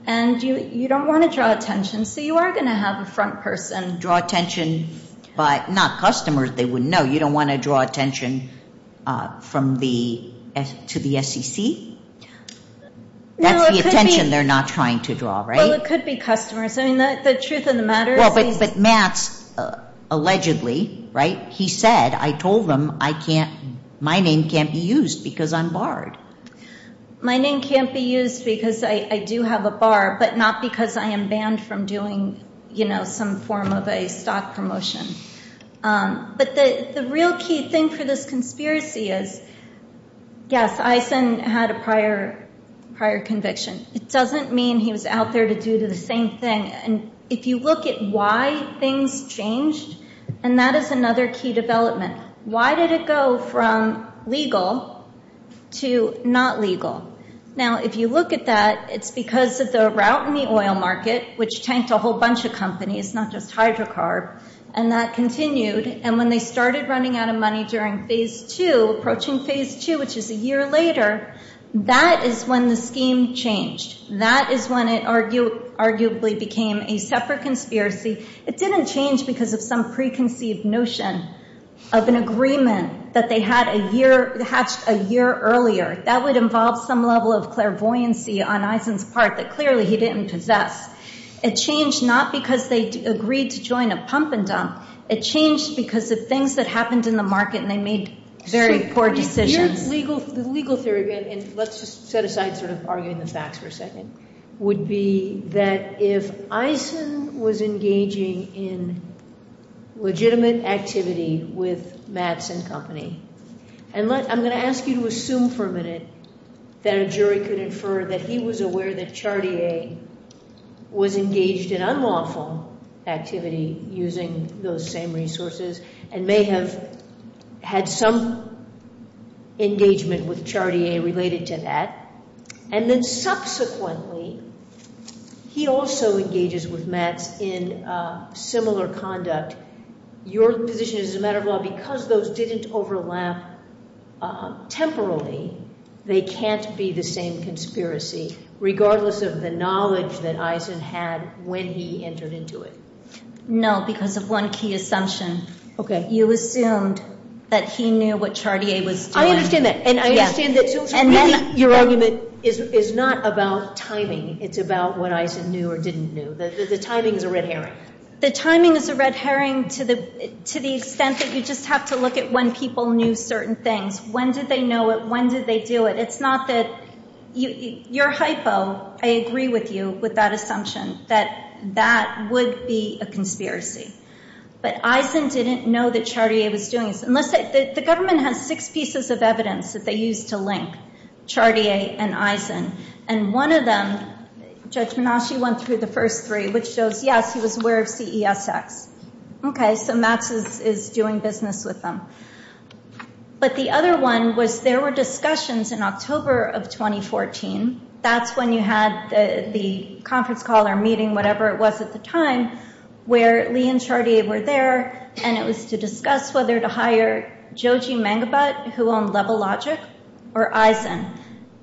and you don't want to draw attention. So you are going to have a front person. Draw attention, but not customers. No, you don't want to draw attention to the SEC. That's the attention they're not trying to draw, right? Well, it could be customers. I mean, the truth of the matter is... Well, but Mass, allegedly, right, he said, I told them my name can't be used because I'm barred. My name can't be used because I do have a bar, but not because I am banned from doing, you know, some form of a stock promotion. But the real key thing for this conspiracy is, yes, Eisen had a prior conviction. It doesn't mean he was out there to do the same thing. And if you look at why things changed, then that is another key development. Why did it go from legal to not legal? Now, if you look at that, it's because of the route in the oil market, which tanks a whole bunch of companies, not just Hydrocarb, and that continued. And when they started running out of money during Phase 2, approaching Phase 2, which is a year later, that is when the scheme changed. That is when it arguably became a separate conspiracy. It didn't change because of some preconceived notion of an agreement that they had a year earlier. That would involve some level of clairvoyancy on Eisen's part that clearly he didn't possess. It changed not because they agreed to join a pump and dump. It changed because the things that happened in the market made very poor decisions. The legal theory, and let's set aside sort of arguing the facts for a second, would be that if Eisen was engaging in legitimate activity with Madsen Company, and I'm going to ask you to assume for a minute that a jury could infer that he was aware that Chartier was engaged in unlawful activity using those same resources and may have had some engagement with Chartier related to that. And then subsequently, he also engages with Madsen in similar conduct. Your position is, as a matter of law, because those didn't overlap temporally, they can't be the same conspiracy, regardless of the knowledge that Eisen had when he entered into it. No, because of one key assumption. You assumed that he knew what Chartier was doing. I understand that. And I understand that your argument is not about timing. It's about what Eisen knew or didn't know. The timing is a red herring. The timing is a red herring to the extent that you just have to look at when people knew certain things. When did they know it? When did they do it? It's not that you're hypo. I agree with you with that assumption that that would be a conspiracy. But Eisen didn't know that Chartier was doing it. The government has six pieces of evidence that they used to link Chartier and Eisen. And one of them, Judge Minasci went through the first three, which shows, yes, he was aware of CESX. OK, so Madsen is doing business with them. But the other one was there were discussions in October of 2014. That's when you had the conference call or meeting, whatever it was at the time, where Lee and Chartier were there. And it was to discuss whether to hire Joe G. Mangebot, who owned Levelogic, or Eisen.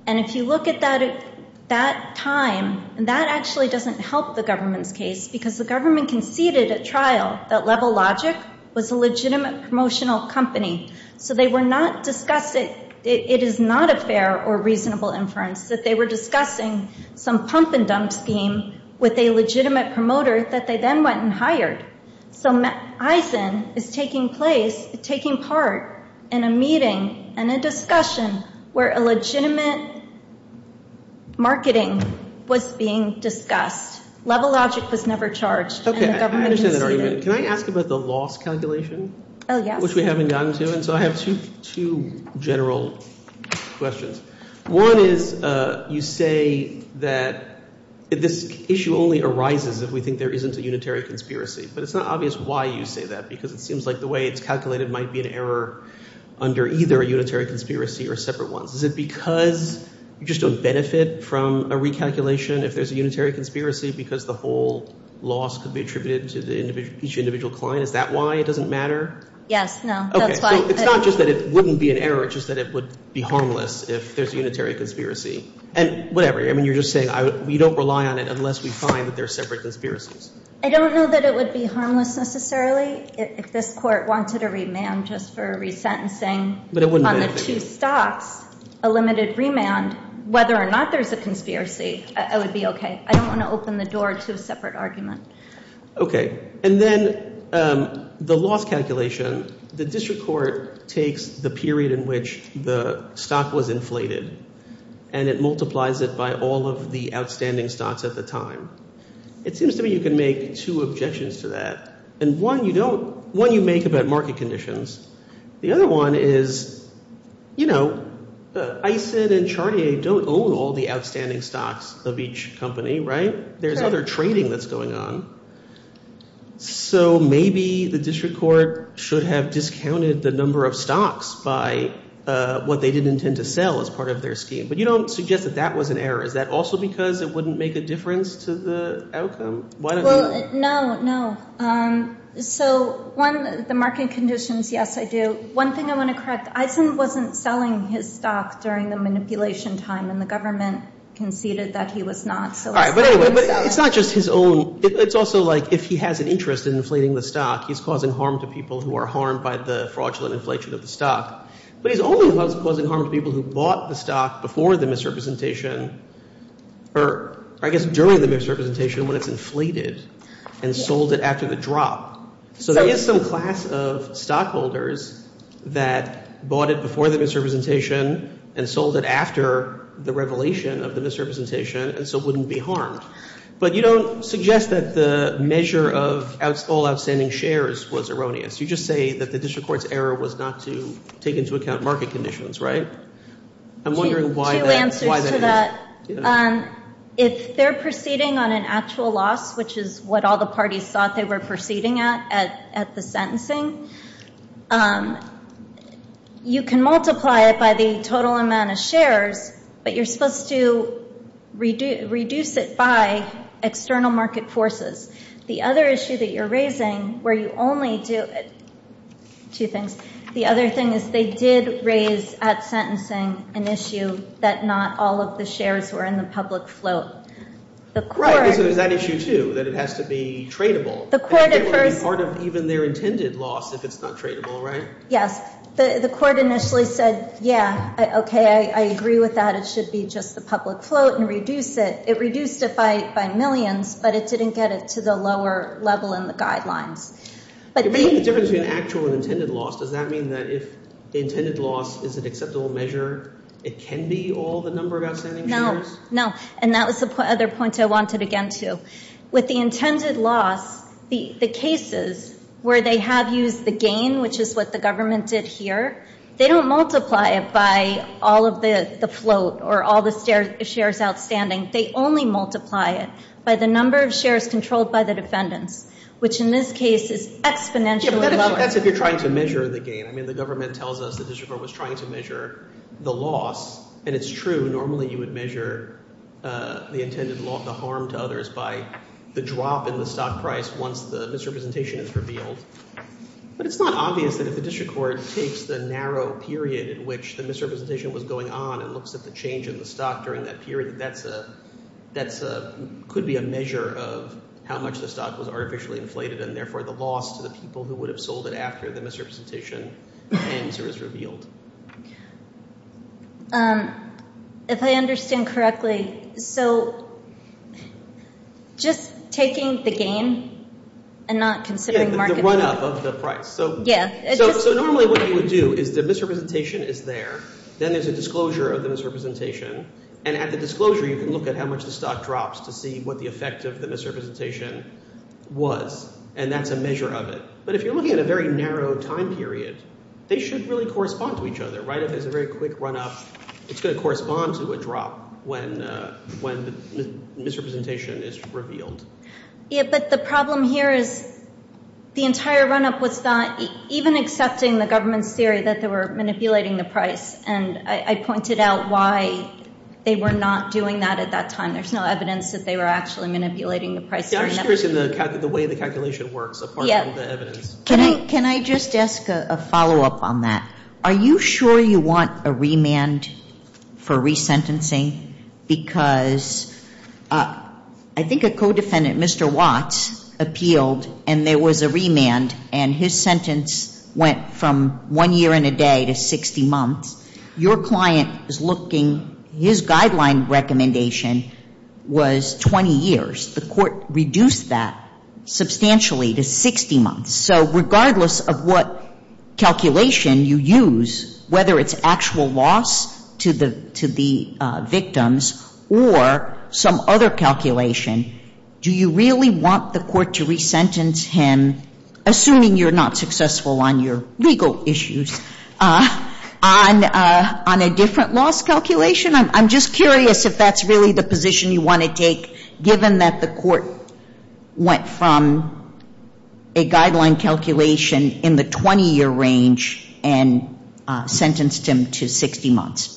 And if you look at that time, that actually doesn't help the government's case, because the government conceded at trial that Levelogic was a legitimate promotional company. So they were not disgusted. It is not a fair or reasonable inference that they were discussing some pump-and-dump scheme with a legitimate promoter that they then went and hired. So Eisen is taking part in a meeting and a discussion where a legitimate marketing was being discussed. Levelogic was never charged. OK, I understand that argument. Can I ask about the loss calculation? Oh, yeah. So I have two general questions. One is, you say that this issue only arises if we think there isn't a unitary conspiracy. But it's not obvious why you say that, because it seems like the way it's calculated might be an error under either a unitary conspiracy or separate ones. Is it because you just don't benefit from a recalculation if there's a unitary conspiracy, because the whole loss could be attributed to each individual client? Is that why it doesn't matter? Yes, no. OK, so it's not just that it wouldn't be an error. It's just that it would be harmless if there's a unitary conspiracy. And whatever. I mean, you're just saying we don't rely on it unless we find that there are separate conspiracies. I don't know that it would be harmless necessarily. If this court wanted a remand just for re-sentencing on the two stocks, a limited remand, whether or not there's a conspiracy, it would be OK. I don't want to open the door to a separate argument. OK, and then the loss calculation, the district court takes the period in which the stock was inflated. And it multiplies it by all of the outstanding stocks at the time. It seems to me you can make two objections to that. And one you don't. One you make about market conditions. The other one is, you know, ICID and Chartier don't own all the outstanding stocks of each company, right? There's other trading that's going on. So maybe the district court should have discounted the number of stocks by what they didn't intend to sell as part of their scheme. But you don't suggest that that was an error. Is that also because it wouldn't make a difference to the outcome? No, no. So one, the market conditions, yes, I do. One thing I want to correct, Items wasn't selling his stock during the manipulation time. And the government conceded that he was not. All right, but anyway, it's not just his own. It's also like if he has an interest in inflating the stock, he's causing harm to people who are harmed by the fraudulent inflation of the stock. But he's only causing harm to people who bought the stock before the misrepresentation, or I guess during the misrepresentation when it's inflated and sold it after the drop. So there is some class of stockholders that bought it before the misrepresentation and sold it after the revelation of the misrepresentation and so wouldn't be harmed. But you don't suggest that the measure of all outstanding shares was erroneous. You just say that the district court's error was not to take into account market conditions, right? I'm wondering why that happened. If they're proceeding on an actual loss, which is what all the parties thought they were proceeding at at the sentencing, you can multiply it by the total amount of shares. But you're supposed to reduce it by external market forces. The other issue that you're raising, where you only do it, two things, the other thing is they did raise at sentencing an issue that not all of the shares were in the public float. That issue too, that it has to be tradable. It's part of even their intended loss if it's not tradable, right? Yes, the court initially said, yeah, OK, I agree with that, it should be just the public float and reduce it. It reduced it by millions, but it didn't get it to the lower level in the guideline. But the difference between actual and intended loss, does that mean that if the intended loss is an acceptable measure, it can be all the number of outstanding shares? No, no. And that was the other point I wanted to get into. With the intended loss, the cases where they have used the gain, which is what the government did here, they don't multiply it by all of this, the float, or all the shares outstanding. They only multiply it by the number of shares controlled by the defendant, which in this case is exponentially lower. But that's if you're trying to measure the gain. I mean, the government tells us the district court was trying to measure the loss. And it's true, normally you would measure the intended loss, the harm to others by the drop in the stock price once the misrepresentation is revealed. But it's not obvious that if the district court takes the narrow period in which the misrepresentation was going on and looks at the change in the stock during that period, that could be a measure of how much the stock was artificially inflated, and therefore the loss to the people who would have sold it after the misrepresentation and it was revealed. If I understand correctly, so just taking the gain and not considering the market price. The run-up of the price. Yes. So normally what you would do is the misrepresentation is there. Then there's a disclosure of the misrepresentation. And at the disclosure, you can look at how much the stock drops to see what the effect of the misrepresentation was. And that's a measure of it. But if you're looking at a very narrow time period, they should really correspond to each other, right? If it's a very quick run-up, it's going to correspond to a drop when the misrepresentation is revealed. Yeah, but the problem here is the entire run-up was not even accepting the government's theory that they were manipulating the price. And I pointed out why they were not doing that at that time. There's no evidence that they were actually manipulating the price. Yeah, I'm interested in the way the calculation works upon all that evidence. Can I just ask a follow-up on that? Are you sure you want a remand for resentencing? Because I think a co-defendant, Mr. Watts, appealed and there was a remand. And his sentence went from one year and a day to 60 months. Your client is looking. His guideline recommendation was 20 years. The court reduced that substantially to 60 months. So regardless of what calculation you use, whether it's actual loss to the victims or some other calculation, do you really want the court to resentence him, assuming you're not successful on your legal issues, on a different loss calculation? I'm just curious if that's really the position you want to take, given that the court went from a guideline calculation in the 20-year range and sentenced him to 60 months.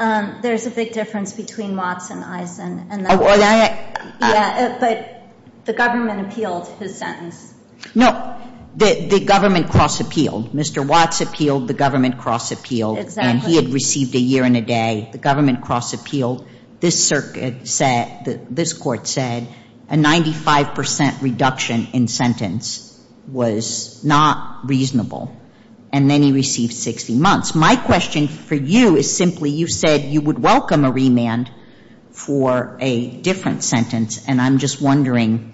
There's a big difference between Watts and Eisen. Yeah, but the government appealed his sentence. No, the government cross-appealed. Mr. Watts appealed, the government cross-appealed. And he had received a year and a day. The government cross-appealed. This court said a 95% reduction in sentence was not reasonable. And then he received 60 months. My question for you is simply, you said you would welcome a remand for a different sentence, and I'm just wondering,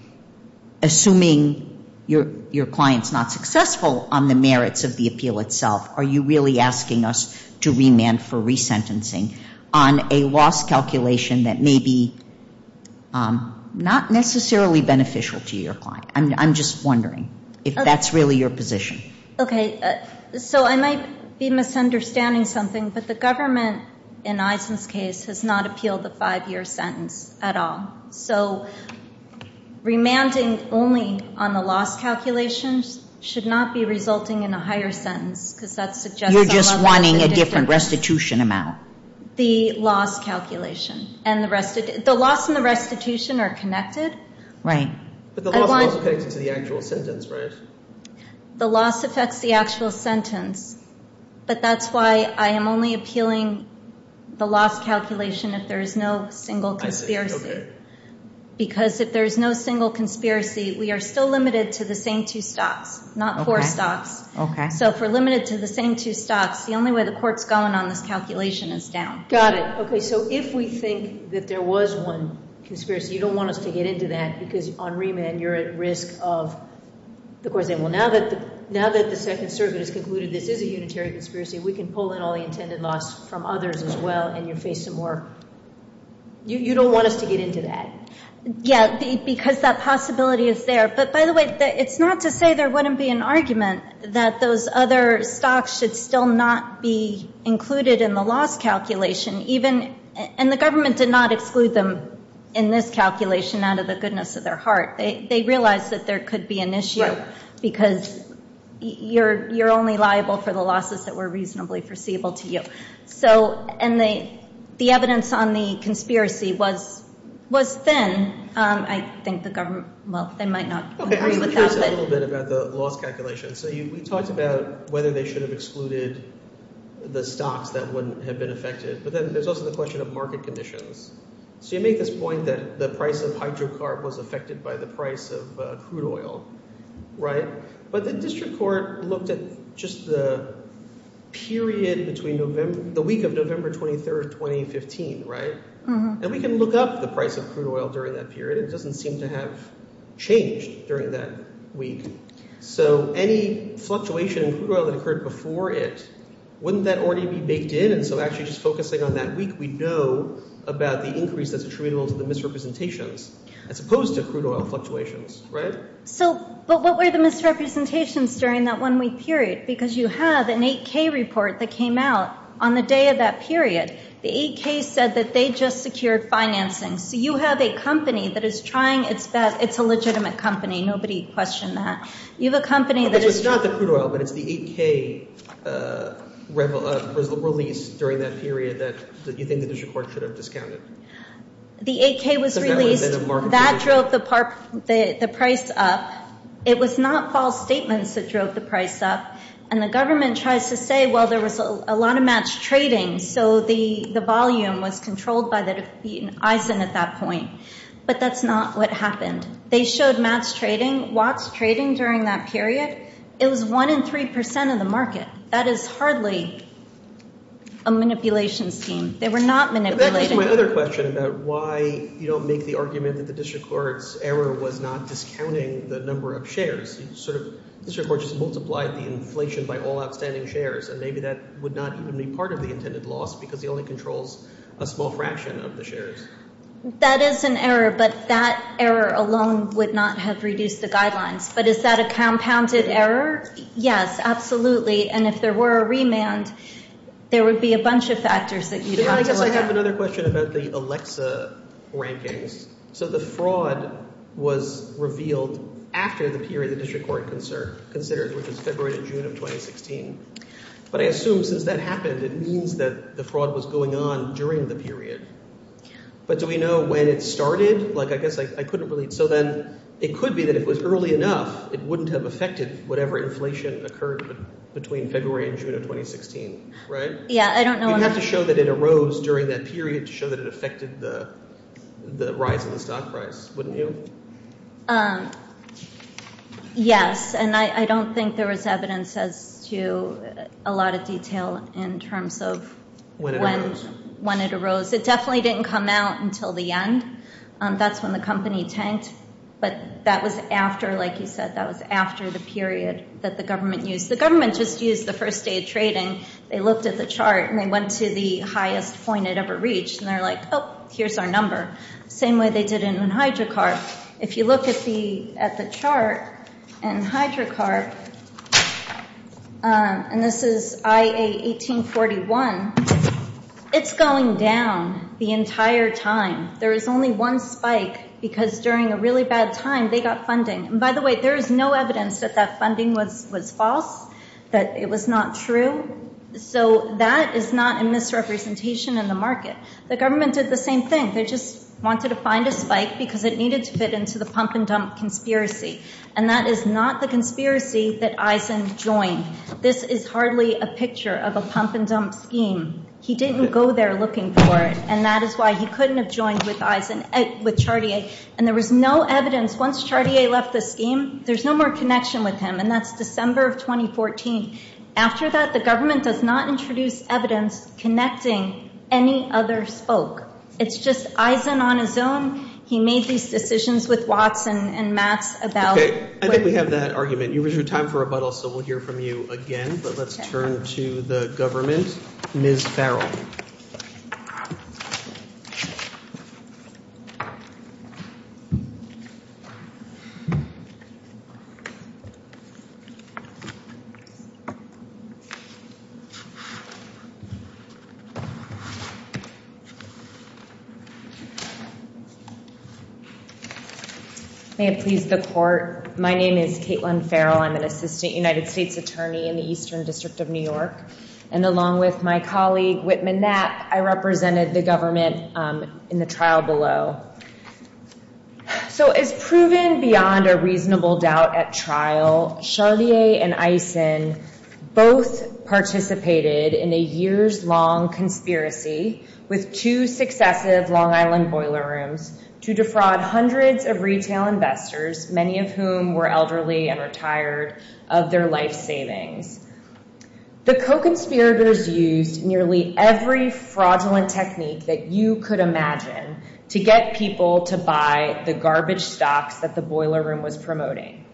assuming your client's not successful on the merits of the appeal itself, are you really asking us to remand for resentencing on a loss calculation that may be not necessarily beneficial to your client? I'm just wondering if that's really your position. Okay, so I might be misunderstanding something, but the government, in Eisen's case, has not appealed the five-year sentence at all. So remanding only on the loss calculation should not be resulting in a higher sentence. You're just wanting a different restitution amount. The loss calculation. The loss and the restitution are connected. Right. But the loss affects the actual sentence, right? The loss affects the actual sentence. But that's why I am only appealing the loss calculation if there is no single conspiracy. Because if there is no single conspiracy, we are still limited to the same two stops, not four stops. Okay. So if we're limited to the same two stops, the only way the court's going on the calculation is down. Got it. Okay, so if we think that there was one conspiracy, you don't want us to get into that, because on remand you're at risk of the court saying, well, now that the Second Circuit has concluded this is a unitary conspiracy, we can pull in all the intended loss from others as well, and you're facing more... You don't want us to get into that. Yeah, because that possibility is there. But by the way, it's not to say there wouldn't be an argument that those other stops should still not be included in the loss calculation. And the government did not include them in this calculation out of the goodness of their heart. They realized that there could be an issue because you're only liable for the losses that were reasonably foreseeable to you. And the evidence on the conspiracy was thin. I think the government... Well, they might not agree with that. ...about the loss calculation. So you talked about whether they should have excluded the stops that wouldn't have been affected. But then there's also the question of market conditions. So you make this point that the price of hydrocarb was affected by the price of crude oil, right? But the district court looked at just the period between the week of November 23, 2015, right? And we can look up the price of crude oil during that period. It doesn't seem to have changed during that week. So any fluctuation in crude oil that occurred before it, wouldn't that already be baked in? And so actually just focusing on that week, we know about the increase that's attributable to the misrepresentations, as opposed to crude oil fluctuations, right? So, but what were the misrepresentations during that one-week period? Because you have an 8K report that came out on the day of that period. The 8K said that they just secured financing. You have a company that is trying... It's a legitimate company. Nobody questioned that. You have a company that is... But it's not the crude oil, but it's the 8K... ...release during that period that you think the district court should have discounted. The 8K was released. That drove the price up. It was not false statements that drove the price up. And the government tries to say, well, there was a lot of matched trading, so the volume was controlled by the ISIN at that point. But that's not what happened. They showed matched trading, watched trading during that period. It was 1 in 3% of the market. That is hardly a manipulation scheme. They were not manipulating. I guess my other question about why, you know, make the argument that the district court's error was not discounting the number of shares. The district court just multiplied the inflation by all outstanding shares, and maybe that would not even be part of the intended loss because it only controls a small fraction of the shares. That is an error, but that error alone would not have reduced the guidelines. But is that a compounded error? Yes, absolutely. And if there were a remand, there would be a bunch of factors. I have another question about the Alexa rankings. So the fraud was revealed after the period the district court considers, which is February to June of 2016. But I assume since that happened, it means that the fraud was going on during the period. But do we know when it started? Like, I guess I couldn't really... So then it could be that it was early enough. It wouldn't have affected whatever inflation occurred between February and June of 2016, right? Yeah, I don't know... You'd have to show that it arose during that period to show that it affected the rise in the stock price, wouldn't you? Yes, and I don't think there was evidence as to a lot of detail in terms of... When it arose. It definitely didn't come out until the end. That's when the company tanked. But that was after, like you said, that was after the period that the government used. The government just used the first day of trading. They looked at the chart and they went to the highest point it ever reached. And they're like, oh, here's our number. Same way they did it in HydroCard. If you look at the chart in HydroCard, and this is IA 1841, it's going down the entire time. There is only one spike because during a really bad time they got funding. And by the way, there is no evidence that that funding was false, that it was not true. So that is not in this representation in the market. The government did the same thing. They just wanted to find a spike because it needed to fit into the pump and dump conspiracy. And that is not the conspiracy that Eisen joined. This is hardly a picture of a pump and dump scheme. He didn't go there looking for it. And that is why he couldn't have joined with Chartier. And there was no evidence. Once Chartier left the scheme, there's no more connection with him. And that's December of 2014. After that, the government does not introduce evidence connecting any other folk. It's just Eisen on his own. He made these decisions with Watts and Mass about... Okay, I think we have that argument. It was your time for rebuttal, so we'll hear from you again. But let's turn to the government. Ms. Farrell. Ms. Farrell. May it please the court, my name is Caitlin Farrell. I'm an assistant United States attorney in the Eastern District of New York. And along with my colleague, Whitman Knapp, I represented the government in the trial below. So as proven beyond a reasonable doubt at trial, Chartier and Eisen both participated in a years-long conspiracy with two successive Long Island boiler rooms to defraud hundreds of retail investors, many of whom were elderly and retired, of their life savings. The co-conspirators used nearly every fraudulent technique that you could imagine to get people to buy the garbage stock that the boiler room was promoting.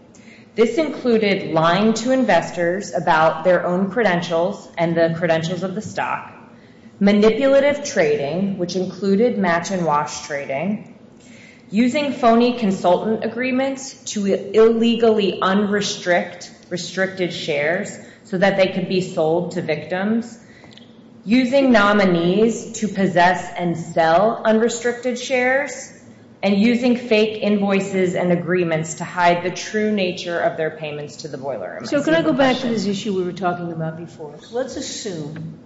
This included lying to investors about their own credentials and the credentials of the stock, manipulative trading, which included match-and-wash trading, using phony consultant agreements to illegally unrestrict restricted shares so that they could be sold to victims, using nominees to possess and sell unrestricted shares, and using fake invoices and agreements to hide the true nature of their payments to the boiler room. So can I go back to this issue we were talking about before? Let's assume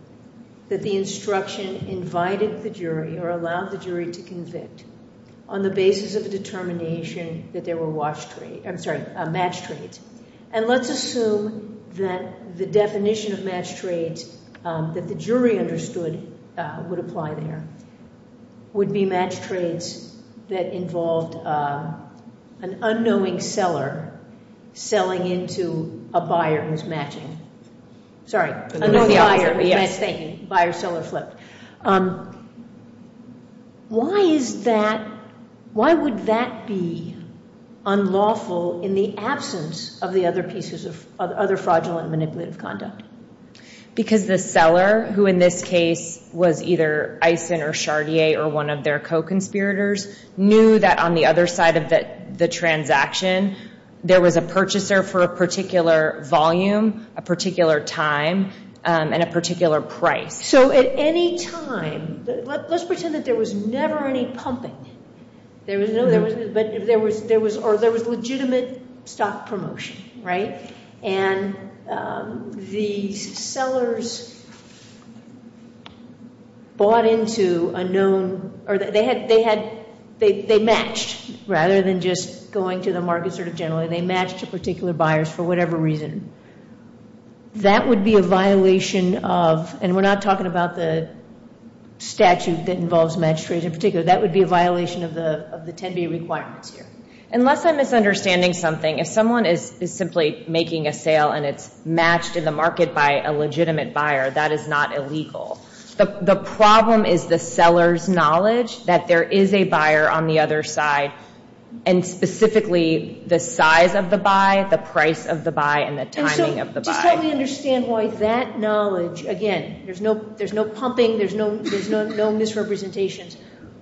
that the instruction invited the jury or allowed the jury to convict on the basis of the determination that there were match trades. And let's assume that the definition of match trades that the jury understood would apply there would be match trades that involved an unknowing seller selling into a buyer who was matching. Sorry, unknowing buyer. Bad thinking. Buyer-seller slip. Why is that, why would that be unlawful in the absence of the other pieces of, other fraudulent manipulative conduct? Because the seller, who in this case was either Eisen or Chartier or one of their co-conspirators, knew that on the other side of the transaction there was a purchaser for a particular volume, a particular time, and a particular price. So at any time, let's pretend that there was never any pumping. Or there was legitimate stock promotion, right? And the sellers bought into a known, or they matched, rather than just going to the market sort of generally. They matched a particular buyer for whatever reason. That would be a violation of, and we're not talking about the statute that involves magistrates in particular, that would be a violation of the 10-day requirements here. Unless I'm misunderstanding something, if someone is simply making a sale and it's matched in the market by a legitimate buyer, that is not illegal. The problem is the seller's knowledge that there is a buyer on the other side, and specifically the size of the buy, the price of the buy, and the timing of the buy. Just help me understand why that knowledge, again, there's no pumping, there's no misrepresentations.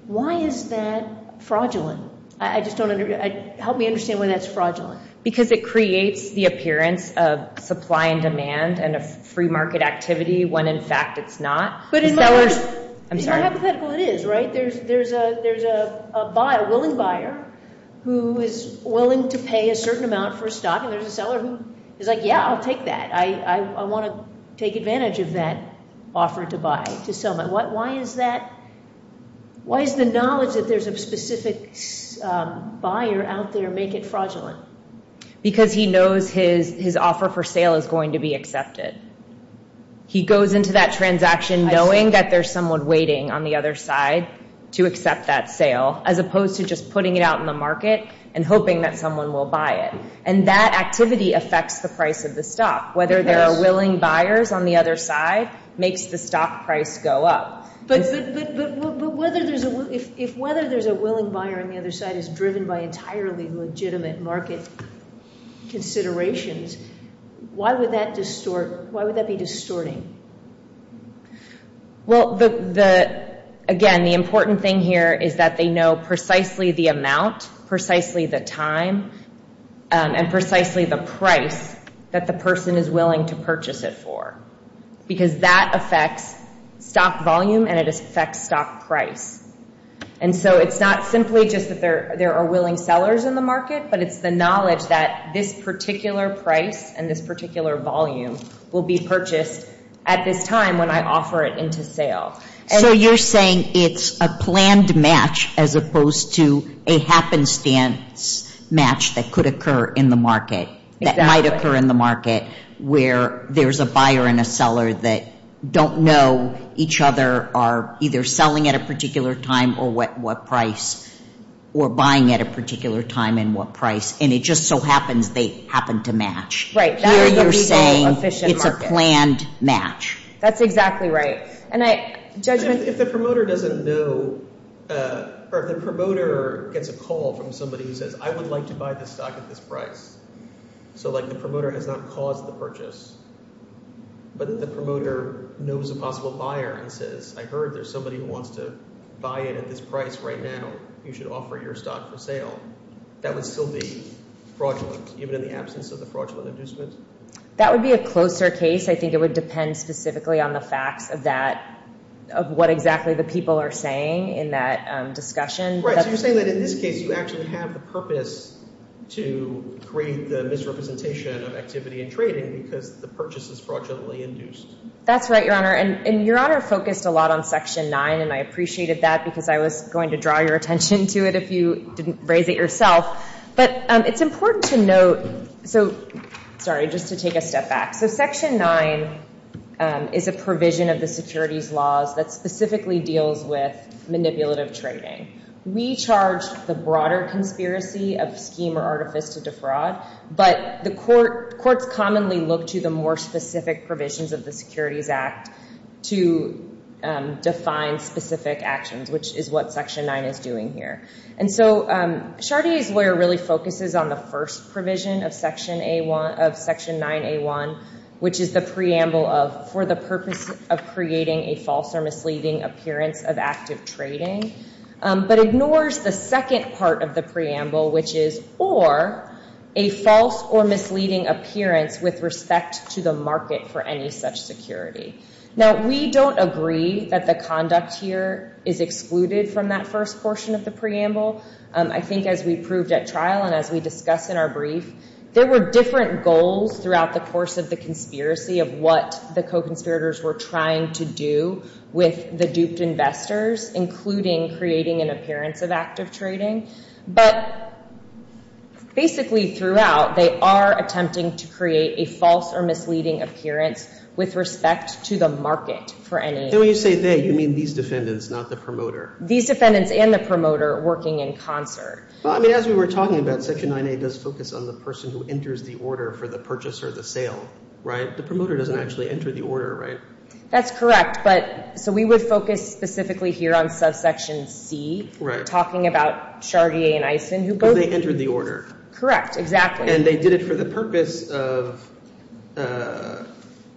Why is that fraudulent? Help me understand why that's fraudulent. Because it creates the appearance of supply and demand and of free market activity when in fact it's not. It's not hypothetical, it is, right? There's a willing buyer who is willing to pay a certain amount for a stock, and there's a seller who is like, yeah, I'll take that. I want to take advantage of that offer to buy. Why is that? Why does the knowledge that there's a specific buyer out there make it fraudulent? Because he knows his offer for sale is going to be accepted. He goes into that transaction knowing that there's someone waiting on the other side to accept that sale, as opposed to just putting it out in the market and hoping that someone will buy it. And that activity affects the price of the stock. Whether there are willing buyers on the other side makes the stock price go up. But if whether there's a willing buyer on the other side is driven by entirely legitimate market considerations, why would that be distorting? Well, again, the important thing here is that they know precisely the amount, precisely the time, and precisely the price that the person is willing to purchase it for. Because that affects stock volume, and it affects stock price. And so it's not simply just that there are willing sellers in the market, but it's the knowledge that this particular price and this particular volume will be purchased at this time when I offer it into sale. So you're saying it's a planned match as opposed to a happenstance match that could occur in the market, that might occur in the market where there's a buyer and a seller that don't know each other are either selling at a particular time or what price, or buying at a particular time and what price. And it just so happens they happen to match. So you're saying it's a planned match. That's exactly right. If the promoter doesn't know, or if the promoter gets a call from somebody who says, I would like to buy this stock at this price, so the promoter has not caused the purchase, but if the promoter knows a possible buyer and says, I heard there's somebody who wants to buy it at this price right now, you should offer your stock for sale, that would still be fraudulent, even in the absence of the fraudulent existence? That would be a closer case. I think it would depend specifically on the fact of that, of what exactly the people are saying in that discussion. Right, so you're saying that in this case you actually have the purpose to create the misrepresentation of activity and trading because the purchase is fraudulently induced. That's right, Your Honor. And Your Honor focused a lot on Section 9, and I appreciated that because I was going to draw your attention to it if you didn't raise it yourself. But it's important to note, so, sorry, just to take a step back. So Section 9 is a provision of the Securities Law that specifically deals with manipulative trading. We charge the broader conspiracy of scheme or artificial defraud, but the courts commonly look to the more specific provisions of the Securities Act to define specific actions, which is what Section 9 is doing here. And so, Chardier's Lawyer really focuses on the first provision of Section 9A1, which is the preamble of for the purpose of creating a false or misleading appearance of active trading, but ignores the second part of the preamble, which is for a false or misleading appearance with respect to the market for any such security. Now, we don't agree that the conduct here is excluded from that first portion of the preamble. I think as we proved at trial and as we discussed in our brief, there were different goals throughout the course of the conspiracy of what the co-conspirators were trying to do with the duped investors, including creating an appearance of active trading. But basically throughout, they are attempting to create a false or misleading appearance with respect to the market for any... And when you say they, you mean these defendants, not the promoter. These defendants and the promoter working in concert. Well, I mean, as we were talking about, Section 9A does focus on the person who enters the order for the purchase or the sale, right? The promoter doesn't actually enter the order, right? That's correct. But, so we would focus specifically here on subsection C, talking about Chartier and Eisen, who both... They enter the order. Correct, exactly. And they did it for the purpose of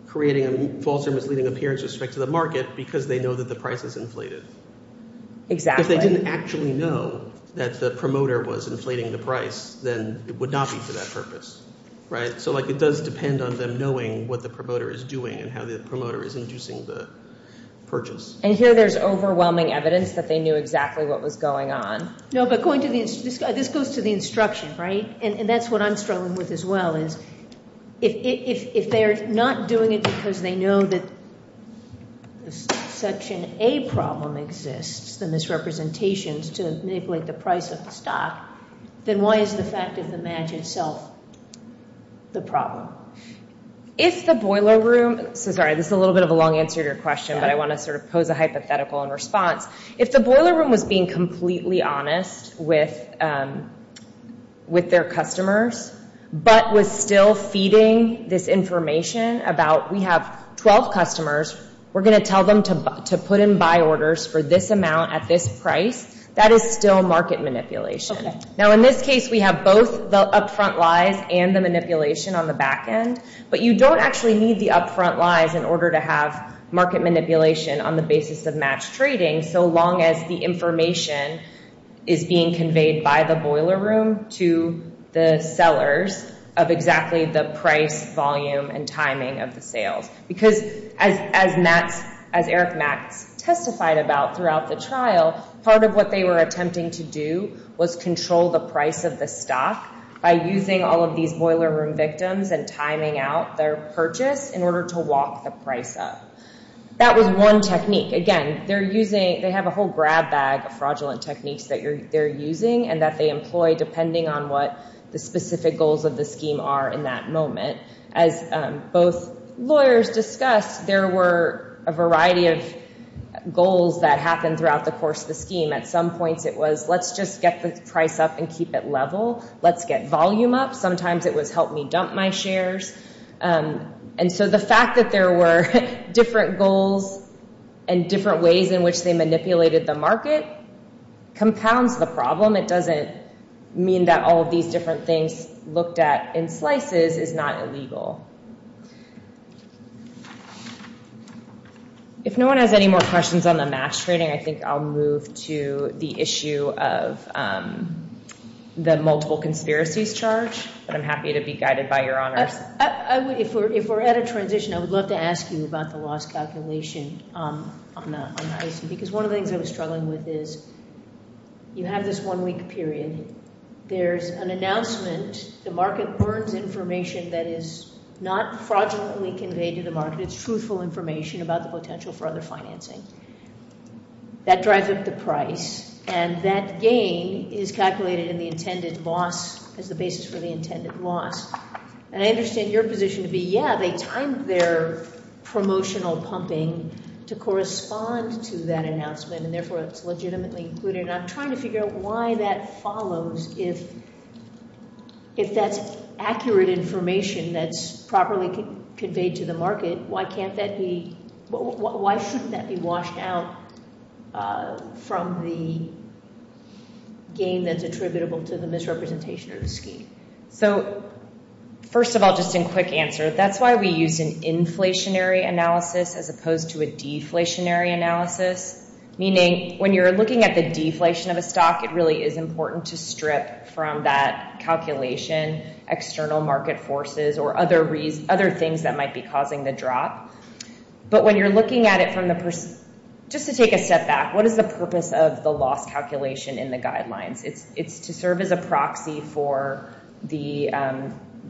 creating a false or misleading appearance with respect to the market because they know that the price is inflated. Exactly. But if they didn't actually know that the promoter was inflating the price, then it would not be for that purpose, right? So, like, it does depend on them knowing what the promoter is doing and how the promoter is inducing the purchase. And here there's overwhelming evidence that they knew exactly what was going on. No, but going to the... This goes to the instruction, right? And that's what I'm struggling with as well, is if they're not doing it because they know that the subsection A problem exists, the misrepresentation to manipulate the price of the stock, then why is the fact of the match itself the problem? If the boiler room... I'm sorry, this is a little bit of a long answer to your question, but I want to sort of pose a hypothetical in response. If the boiler room was being completely honest with their customers, but was still feeding this information about we have 12 customers, we're going to tell them to put in buy orders for this amount at this price, that is still market manipulation. Now, in this case, we have both the upfront lies and the manipulation on the back end, but you don't actually need the upfront lies in order to have market manipulation on the basis of match trading, so long as the information is being conveyed by the boiler room to the sellers of exactly the price, volume, and timing of the sales. Because as Eric Mack testified about throughout the trial, part of what they were attempting to do was control the price of the stock by using all of these boiler room victims and timing out their purchase in order to walk the price up. That was one technique. Again, they have a whole grab bag of fraudulent techniques that they're using and that they employ depending on what the specific goals of the scheme are in that moment. As both lawyers discussed, there were a variety of goals that happened throughout the course of the scheme. At some point, it was, let's just get the price up and keep it level. Let's get volume up. Sometimes it would help me dump my shares. The fact that there were different goals and different ways in which they manipulated the market compounds the problem. It doesn't mean that all of these different things looked at in slices is not illegal. If no one has any more questions on the mass trading, I think I'll move to the issue of the multiple conspiracies charge. I'm happy to be guided by Your Honor. If we're at a transition, I would love to ask you about the loss calculation on the pricing because one of the things I was struggling with is you have this one week period. There's an announcement. The market burns information that is not fraudulently conveyed to the market. It's truthful information about the potential for other financing. That drives up the price. That gain is calculated in the intended loss as the basis for the intended loss. I understand your position to be, yeah, they timed their promotional pumping to correspond to that announcement and, therefore, it's legitimately included. I'm trying to figure out why that follows and if that's accurate information that's properly conveyed to the market, why can't that be, why shouldn't that be washed out from the gain that's attributable to the misrepresentation or the scheme? So, first of all, just in quick answer, that's why we used an inflationary analysis as opposed to a deflationary analysis, meaning when you're looking at the deflation of a stock, it really is important to strip from that calculation external market forces or other things that might be causing the drop. But when you're looking at it from the, just to take a step back, what is the purpose of the loss calculation in the guidelines? It's to serve as a proxy for the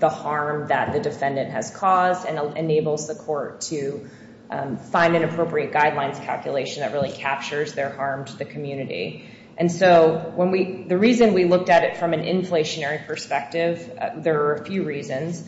harm that the defendant has caused and enables the court to find an appropriate guidelines calculation that really captures their harm to the community. And so when we, the reason we looked at it from an inflationary perspective, there are a few reasons.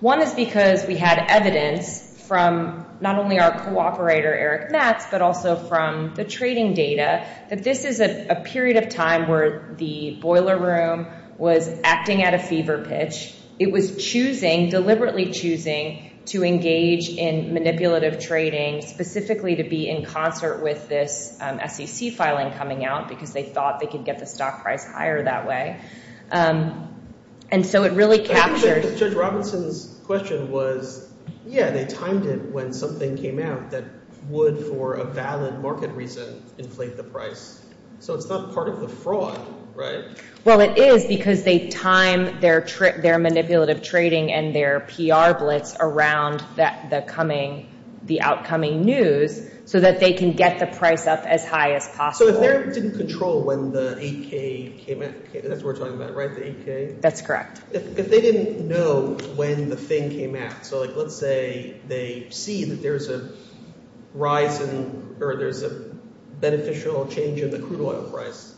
One is because we had evidence from not only our cooperator, Eric Ness, but also from the trading data that this is a period of time where the boiler room was acting at a fever pitch. It was choosing, deliberately choosing, to engage in manipulative trading specifically to be in concert with this SEC filing coming out because they thought they could get the stock price higher that way. And so it really captures... I think I understood Robertson's question was, yeah, they timed it when something came out that would, for a valid market reason, inflate the price. So it's not part of the fraud, right? Well, it is because they time their manipulative trading and their PR blitz around the coming, the outcoming news so that they can get the price up as high as possible. So if they didn't control when the 8K came out, that's what we're talking about, right? The 8K? That's correct. If they didn't know when the thing came out, so let's say they see that there's a rise in, or there's a beneficial change in the crude oil price,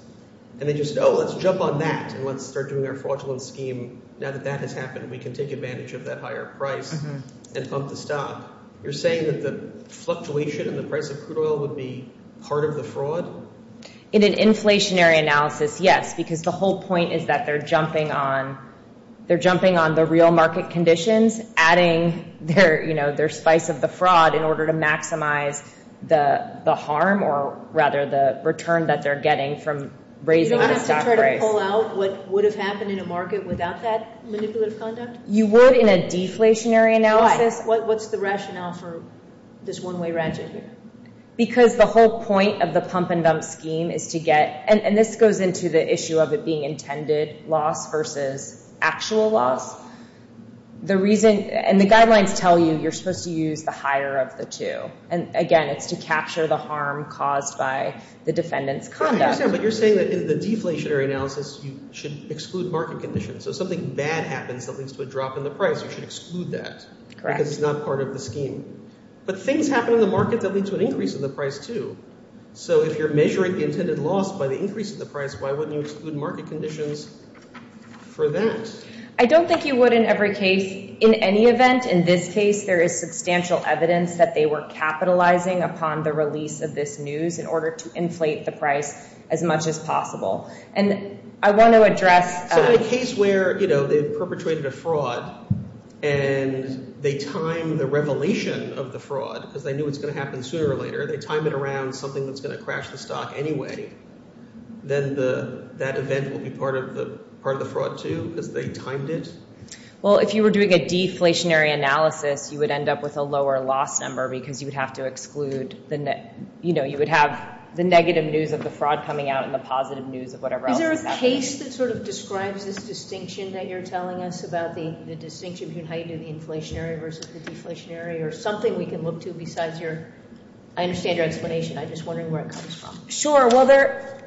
and they just, oh, let's jump on that and let's start doing their fraudulent scheme. Now that that has happened, we can take advantage of that higher price and bump the stock. You're saying that the fluctuation in the price of crude oil would be part of the fraud? In an inflationary analysis, yes, because the whole point is that they're jumping on, they're jumping on the real market conditions, adding their, you know, their spice of the fraud in order to maximize the harm, or rather the return that they're getting from raising the stock price. Do you have to try to pull out what would have happened in a market without that manipulative conduct? You would in a deflationary analysis. What's the rationale for this one-way ratchet here? Because the whole point of the pump and dump scheme is to get, and this goes into the issue of it being intended loss versus actual loss. The reason, and the guidelines tell you you're supposed to use the higher of the two. And again, it's to capture the harm caused by the defendant's conduct. But you're saying that in the deflationary analysis, you should exclude market conditions. So if something bad happens, something's going to drop in the price, you should exclude that. Correct. Because it's not part of the scheme. But things happen in the market that lead to an increase in the price too. So if you're measuring the intended loss by the increase in the price, why wouldn't you exclude market conditions for that? I don't think you would in every case. In any event, in this case, there is substantial evidence that they were capitalizing upon the release of this news in order to inflate the price as much as possible. And I want to address... Is there a case where, you know, they perpetrated a fraud and they timed the revelation of the fraud because they knew it was going to happen sooner or later. They timed it around something that was going to crash the stock anyway. Then that event would be part of the fraud too because they timed it? Well, if you were doing a deflationary analysis, you would end up with a lower loss number because you would have to exclude... You know, you would have the negative news of the fraud coming out and the positive news of whatever else. Is there a case that sort of describes this distinction that you're telling us about the distinction between how you do the inflationary versus the deflationary or something we can look to besides your... I understand your explanation. I'm just wondering where it comes from. Sure. Well,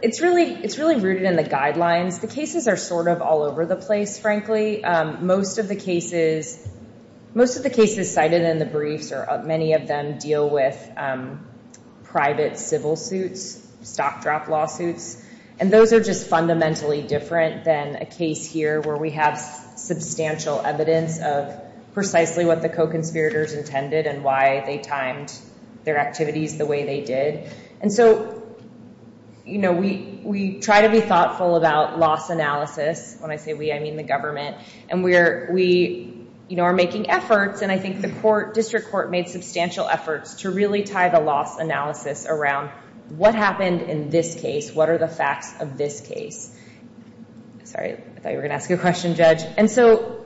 it's really rooted in the guidelines. The cases are sort of all over the place, frankly. Most of the cases cited in the brief or many of them deal with private civil suits, stock draft lawsuits, and those are just fundamentally different than a case here where we have substantial evidence of precisely what the co-conspirators intended and why they timed their activities the way they did. And so, you know, we try to be thoughtful about loss analysis when I say we, I mean the government. And we're, we, you know, are making efforts and I think the court, district court made substantial efforts to really tie the loss analysis around what happened in this case, what are the facts of this case. Sorry, I thought you were going to ask a question, And so,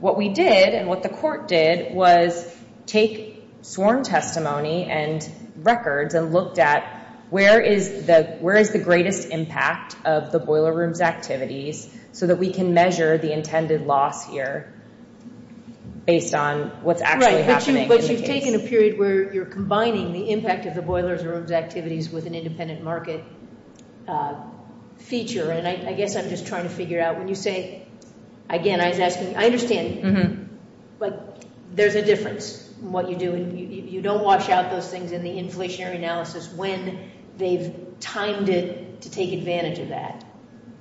what we did and what the court did was take sworn testimony and records and looked at where is the greatest impact of the boiler rooms activities so that we can measure the intended loss here based on what's actually happening in the case. but you've taken a period where you're combining the impact of the boiler rooms activities with an independent market feature and I guess I'm just trying to figure out when you say, again, I understand but there's a difference in what you do and you don't wash out those things in the inflationary analysis when they've timed it to take advantage of that.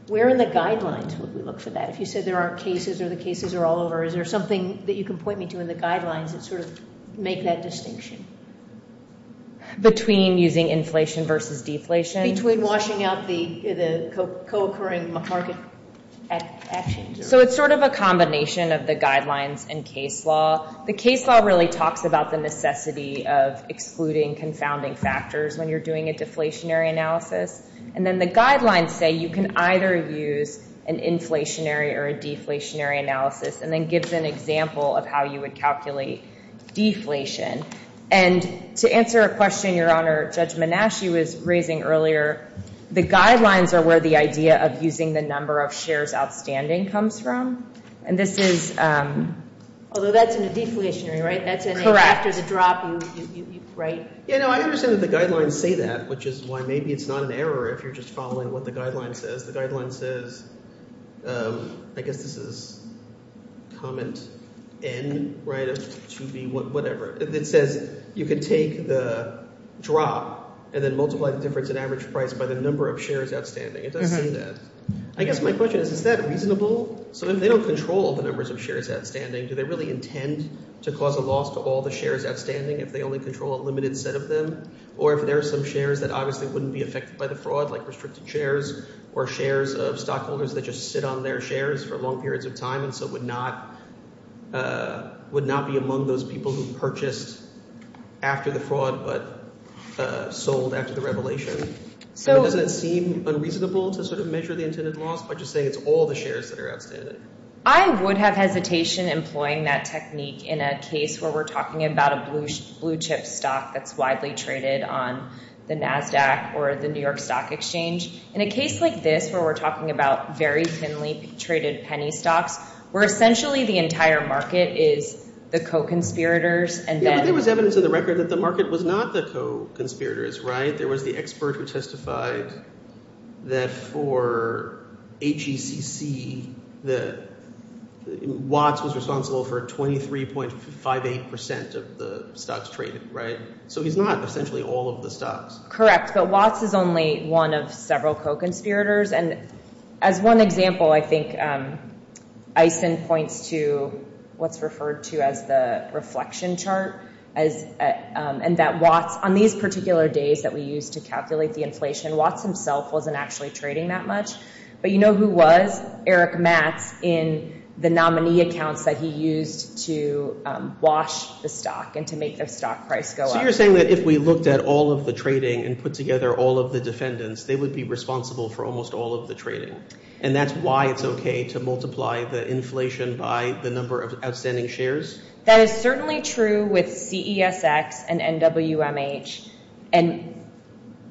Where are the guidelines as we look for that? You said there aren't cases or the cases are all over. Is there something that you can point me to in the guidelines to sort of make that distinction? Between using and washing out the co-occurring market actions. So it's sort of a combination of the guidelines and case law. The case law really talks about the necessity of excluding confounding factors when you're doing a deflationary analysis and then the guidelines say you can either use an inflationary or a deflationary analysis and then gives an example of how you would calculate deflation and to answer a question Your Honor, Judge Manasci was raising earlier the guidelines are where the idea of using the number of shares outstanding comes from and this is Although that's in the deflationary, right? After the drop right? I understand that the guidelines say that, which is why maybe it's not an error if you're just following what the guidelines say. say, I guess this is comment N, right? To be whatever. It says you can take the drop and then multiply the difference in average price by the number of shares outstanding. Is that saying that? I guess my question is, is that reasonable? Sometimes they don't control the number of shares outstanding. Do they really intend to cause a loss of all the shares outstanding if they only control a limited set of them? Or if there are some shares that obviously wouldn't be affected by the fraud like restricted shares or shares of stockholders that just sit on their shares for long periods of time and so would not would not be among those people who purchased after the fraud but sold after the revelation. So does it seem unreasonable to sort of measure the intended loss by just saying it's all the shares that are outstanding? I would have hesitation employing that technique in a case where we're talking about a blue chip stock that's widely traded on the NASDAQ or the New York Stock Exchange. In a case like this where we're talking about very thinly traded penny stocks where essentially the entire market is the co-conspirators and then... There was evidence in the record that the market was not the co-conspirators, right? There was the expert who testified that for HECC that Watts was responsible for 23.58% of the stocks traded, right? So he's not essentially all of the stocks. Correct. So Watts is only one of several co-conspirators and as one example I think Eisen points to what's referred to as the reflection chart and that Watts on these particular days that we used to calculate the inflation Watts himself wasn't actually trading that much but you know who was? Eric Mast in the nominee accounts that he used to wash the stock and to make the stock price go up. You're saying that if we looked at all of the trading and put together all of the defendants they would be responsible for almost all of the trading and that's why it's okay to multiply the inflation by the number of outstanding shares? That is certainly true with the ESX and NWMH and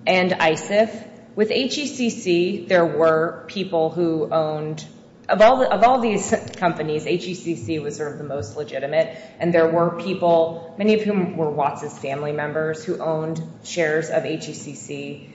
and ISIF with HECC there were people who owned of all of all these companies HECC was the most legitimate and there were people many of whom were Watts's family members who owned shares of HECC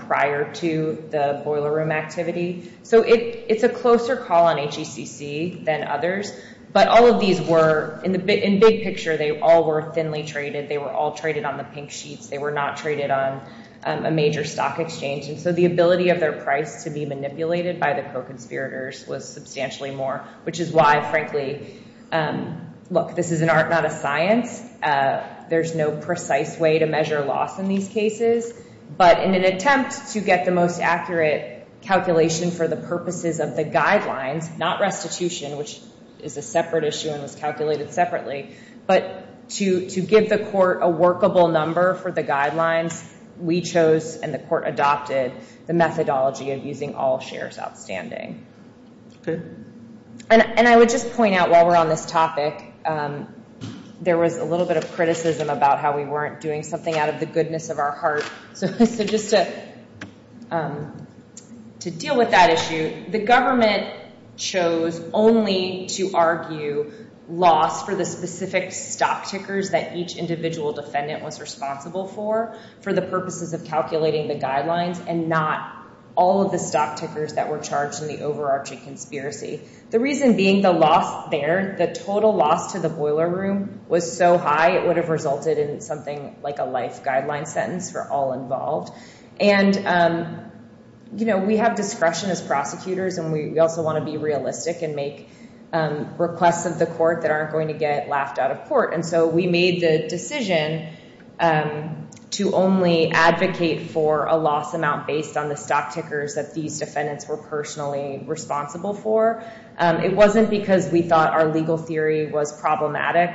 prior to the boiler room activity so it's a closer call on HECC than others but all of these were in big picture they all were thinly traded they were all traded on the pink sheet they were not traded on a major stock exchange so the ability of their price to be manipulated by the co-conspirators was substantially more which is why frankly this is an art not a science there's no precise way to measure loss in these cases but in an attempt to get the most calculations for the purposes of the guidelines not restitution which is a separate issue and was separately but to give the court a workable number for the guidelines we chose and the court adopted the methodology of using all shares outstanding and I would just point out while we're on this topic there was a little bit of about how we weren't doing something out of the of our heart so just to deal with that issue the government chose only to loss for the specific stock tickers that each individual defendant was responsible for for the purposes of calculating the guidelines and not all of the stock tickers that were charged in the overarching conspiracy the reason being the loss there the total loss to the boiler and we also want to be realistic and make requests of the court that aren't going to get laughed out of court so we made the decision to only advocate for a loss amount based on the stock tickers that these defendants were personally responsible for it wasn't because we thought our legal theory was problematic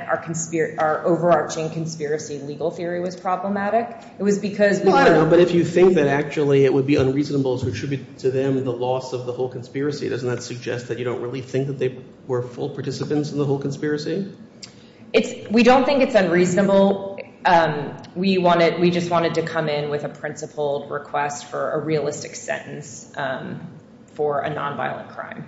our overarching conspiracy legal theory was problematic it was because I don't know but if you think that actually it would be unreasonable to attribute to them the loss of the whole conspiracy doesn't that suggest that you don't really think that they were full participants in the whole conspiracy we don't think it's unreasonable we just wanted to come in with a principled request for a realistic sentence for a non-violent crime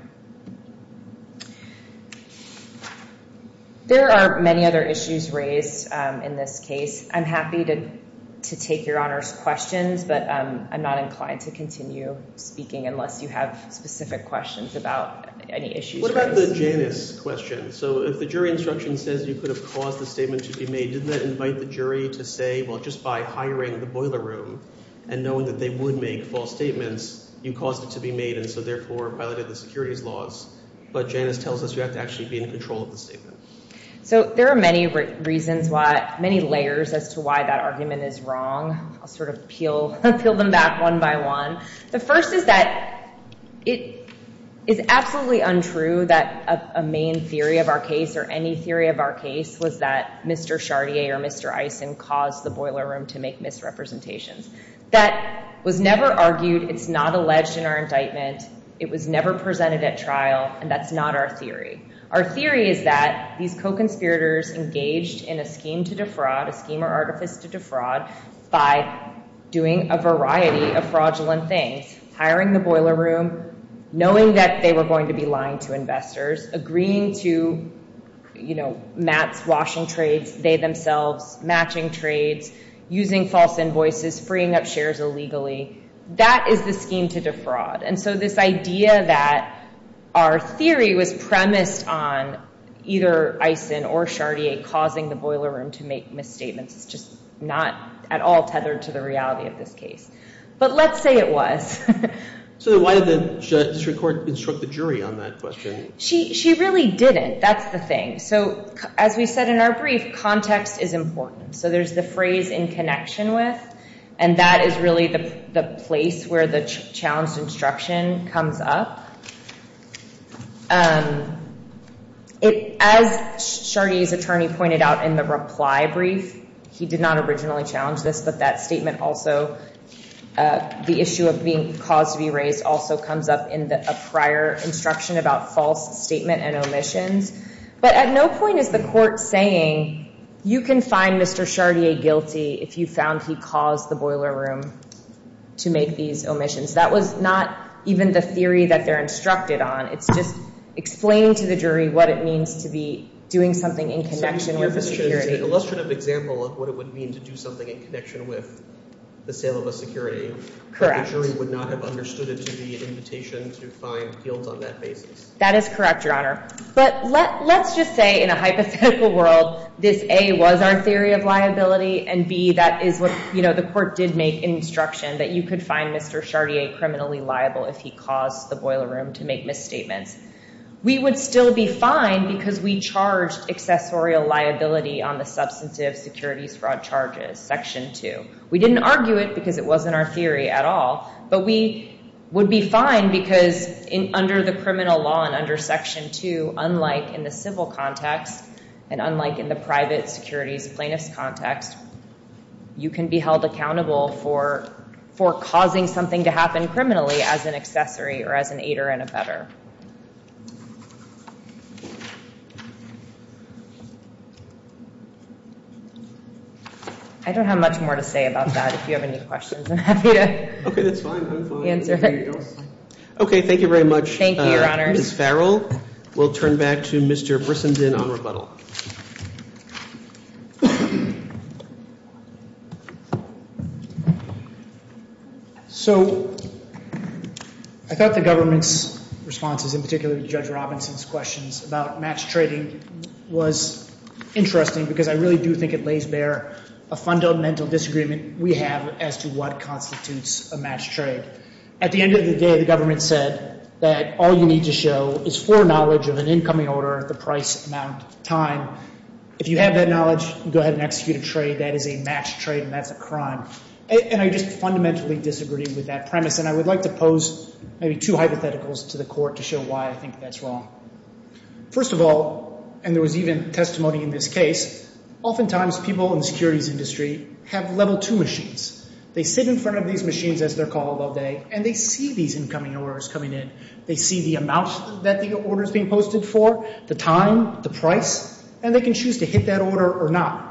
there are many other issues raised in this case I'm happy to take your honors questions but I'm not inclined to continue speaking unless you have specific questions about any issues what about the Janus question so if the jury instruction says you could have caused the statement to be made didn't that invite the jury to say just by hiring the boiler room and knowing that they would make false statements you caused it to be made and so therefore violated the securities laws but Janus tells us you have to be in control of the boiler room main theory of our case was that Mr. Chardier caused the boiler room to make misrepresentation that was never argued it was not presented at trial and that's not our theory our theory is that these co-conspirators engaged in a scheme to defraud by doing a variety of fraudulent things hiring the boiler room knowing that they were going to be lying to investors agreeing to matching trades using false invoices freeing up shares illegally that is the scheme to defraud and so this idea that our theory was premised on either causing the boiler room to make misstatements just not at all tethered to the reality of this case but let's say it was so why did the district court instruct the jury on that question she really didn't that's the thing so as we said in our brief context is important so there's the phrase in connection with and that is really the place where the challenge instruction comes up as Chartier's attorney pointed out in the reply brief he did not originally challenge this but that statement also the issue of being caused to be raised also comes up in the prior instruction about false statement and omission but at no point is the court saying you can find Mr. Chartier guilty if you found he caused the boiler room to make these omissions that was not even the theory that they're instructed on it's just explain to the jury what it means to be doing something in connection with the security that is correct your honor but let's just say in a hypothetical world this a was our theory of liability and b that is what you know the court did make instruction that you could find Mr. Chartier criminally liable if he caused the boiler room to make misstatements. We would still be fine because we charged liability on the charges. We didn't argue it because it wasn't our theory at all but we would be fine because under the criminal law and under section 2 unlike in the civil context and unlike in the private context you can be held accountable for causing something to criminally as an accessory. I don't have much more to say about that. If you have any questions I'm happy to answer. Thank you very much Ms. Farrell. We will turn back to Mr. Brisson on rebuttal. I thought the government's response was interesting because I think it lays bare a fundamental disagreement we have as to what constitutes a match trade. At the end of the day the government said all you need to show is the price amount of time. If you have that knowledge go ahead and execute a trade. I fundamentally disagreed with that premise. First of all, and there was even testimony in this case, oftentimes people in security industry have level two machines. They sit in front of these machines as they are called all day and they see the amount of orders being posted for, the time, the price, and they can choose to hit that amount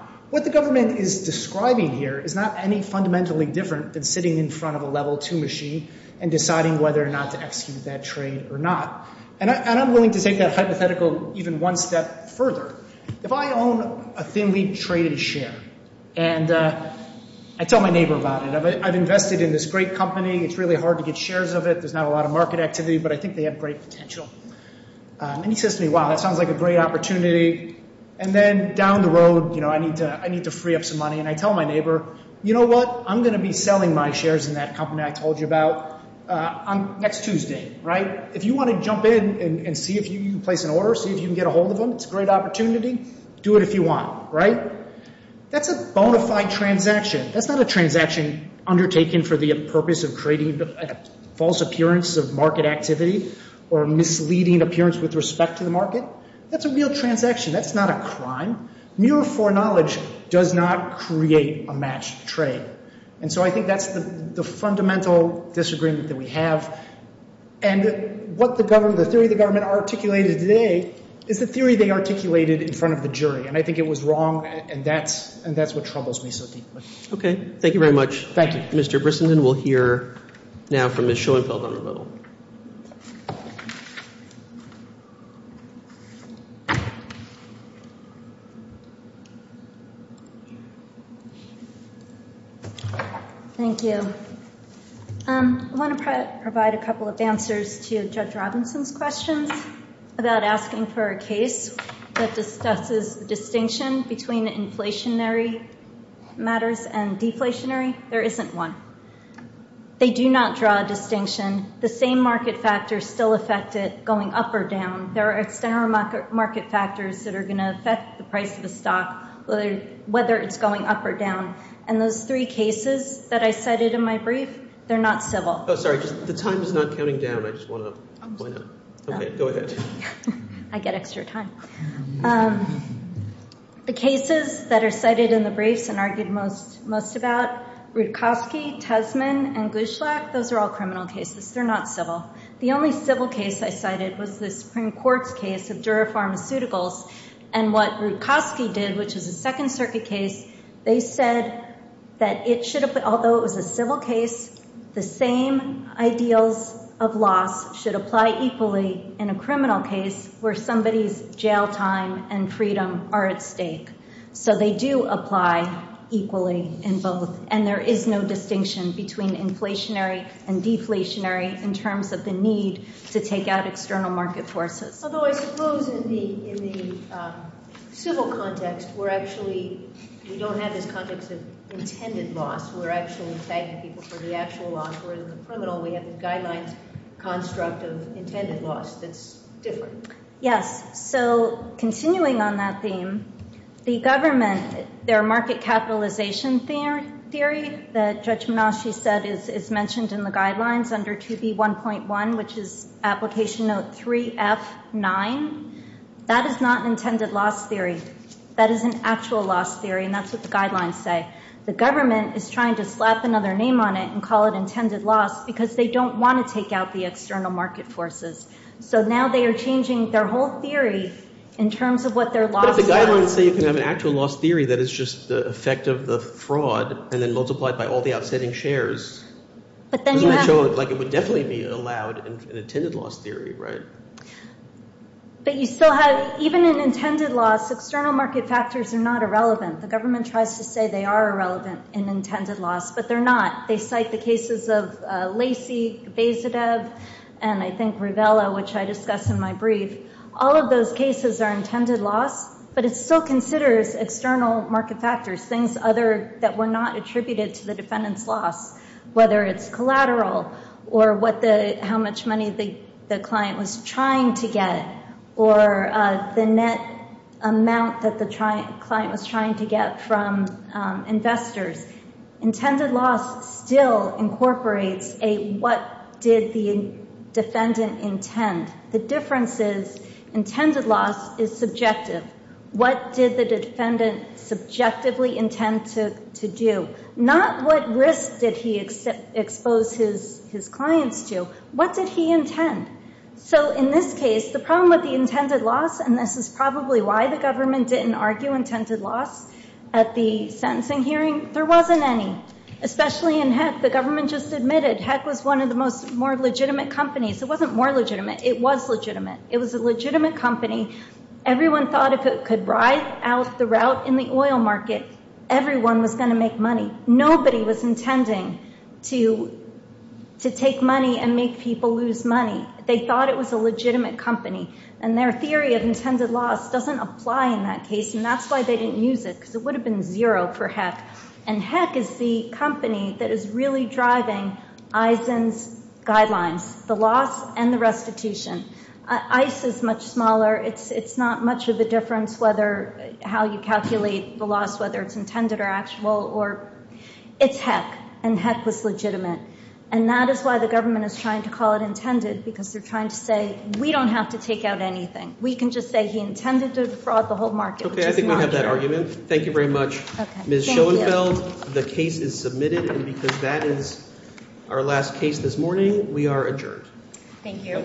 invested in this great company. I think they have great potential. Down the road I need to free up some money. told my neighbor I'm going to be selling my shares next Tuesday. If you want to jump in and see if you can get a hold of them, do it if you want. That's a bona fide transaction. That's not a transaction undertaken for the purpose of creating false appearance of market activity. That's not a crime. Mere foreknowledge does not create a matched trade. I think that's the fundamental disagreement that we have. What the government articulated today is a theory they articulated in front of the jury. I think it was wrong. That's what troubles me so deeply. Okay. Thank you very much. Thank you, Mr. Brissenden. We'll hear now from Ms. Schoenfeld. Thank you. I want to provide a couple of answers to Jeff Robinson's question about asking for a case that discusses the distinction between inflationary matters and deflationary matters. isn't one. They do not draw a distinction. The same market factors still affect it going up or down. There are external market factors that are going to affect the price of the stock whether it's going up or down. And those three cases that I cited, the cases that are cited in the briefs and argued most about, those are all criminal cases. They're not civil. The only civil case I cited was the Supreme Court's case of pharmaceuticals. And what they did, which was a second circuit case, they said that it should have been, that the loss should apply equally in a criminal case where somebody's jail time and freedom are at stake. So they do apply equally in both. And there is no distinction between inflationary and deflationary in terms of the need to take out external market forces. Although I suppose in the civil context, we're actually, we don't have this context of intended loss. We're actually citing people for the actual loss whereas in the criminal we have the guideline construct of intended loss that's different. Yes. So, continuing on that theme, the government, their market capitalization theory, that Judge Manasi said is mentioned in the guidelines under 2B1.1 which is application note 3F9, that is not intended loss theory. That is an actual loss theory and that's what the guidelines say. The government is trying to slap another name on it and call it intended loss because they don't want to take out the external market forces. So now they are changing their whole theory in terms of what their loss is. But the guidelines say you can have an actual loss theory that is just the effect of the fraud and then multiplied by all the outstanding shares. It would definitely be allowed in intended loss theory, right? But you still have, even in my brief, all of those cases are intended loss but it still considers external market factors, things other that were not attributed to the defendant's loss, whether it's collateral or how much money the client was trying to get or the net amount that the client was trying to get from investors. Intended loss still incorporates what did the defendant intend. The difference is intended loss is subjective. What did the defendant subjectively intend to do? Not what risk did he expose his clients to. What did he intend? So in this case, the problem with the intended loss, and this is probably why the government didn't argue intended loss at the sentencing hearing, there wasn't any. It was a legitimate company. Everyone thought if it could ride out the route in the oil market, everyone was going to make money. Nobody was intending to take money and make people lose money. They thought it was a company, and their theory of intended loss doesn't apply in that case, and that's why they didn't use it. It would have been zero for HEC, and HEC is the company that is really driving Eisen's guidelines, the loss and the restitution. ICE is much smaller. It's not much of a difference whether how you calculate the loss, whether it's intended or actual. It's HEC, and HEC is legitimate. And that is why the government is trying to call it intended. We don't have to take out anything. We can just say he intended to fraud the whole market. Thank you very much. Ms. Schoenfeld, the case is submitted. That is our last case this morning. We are adjourned. Thank you.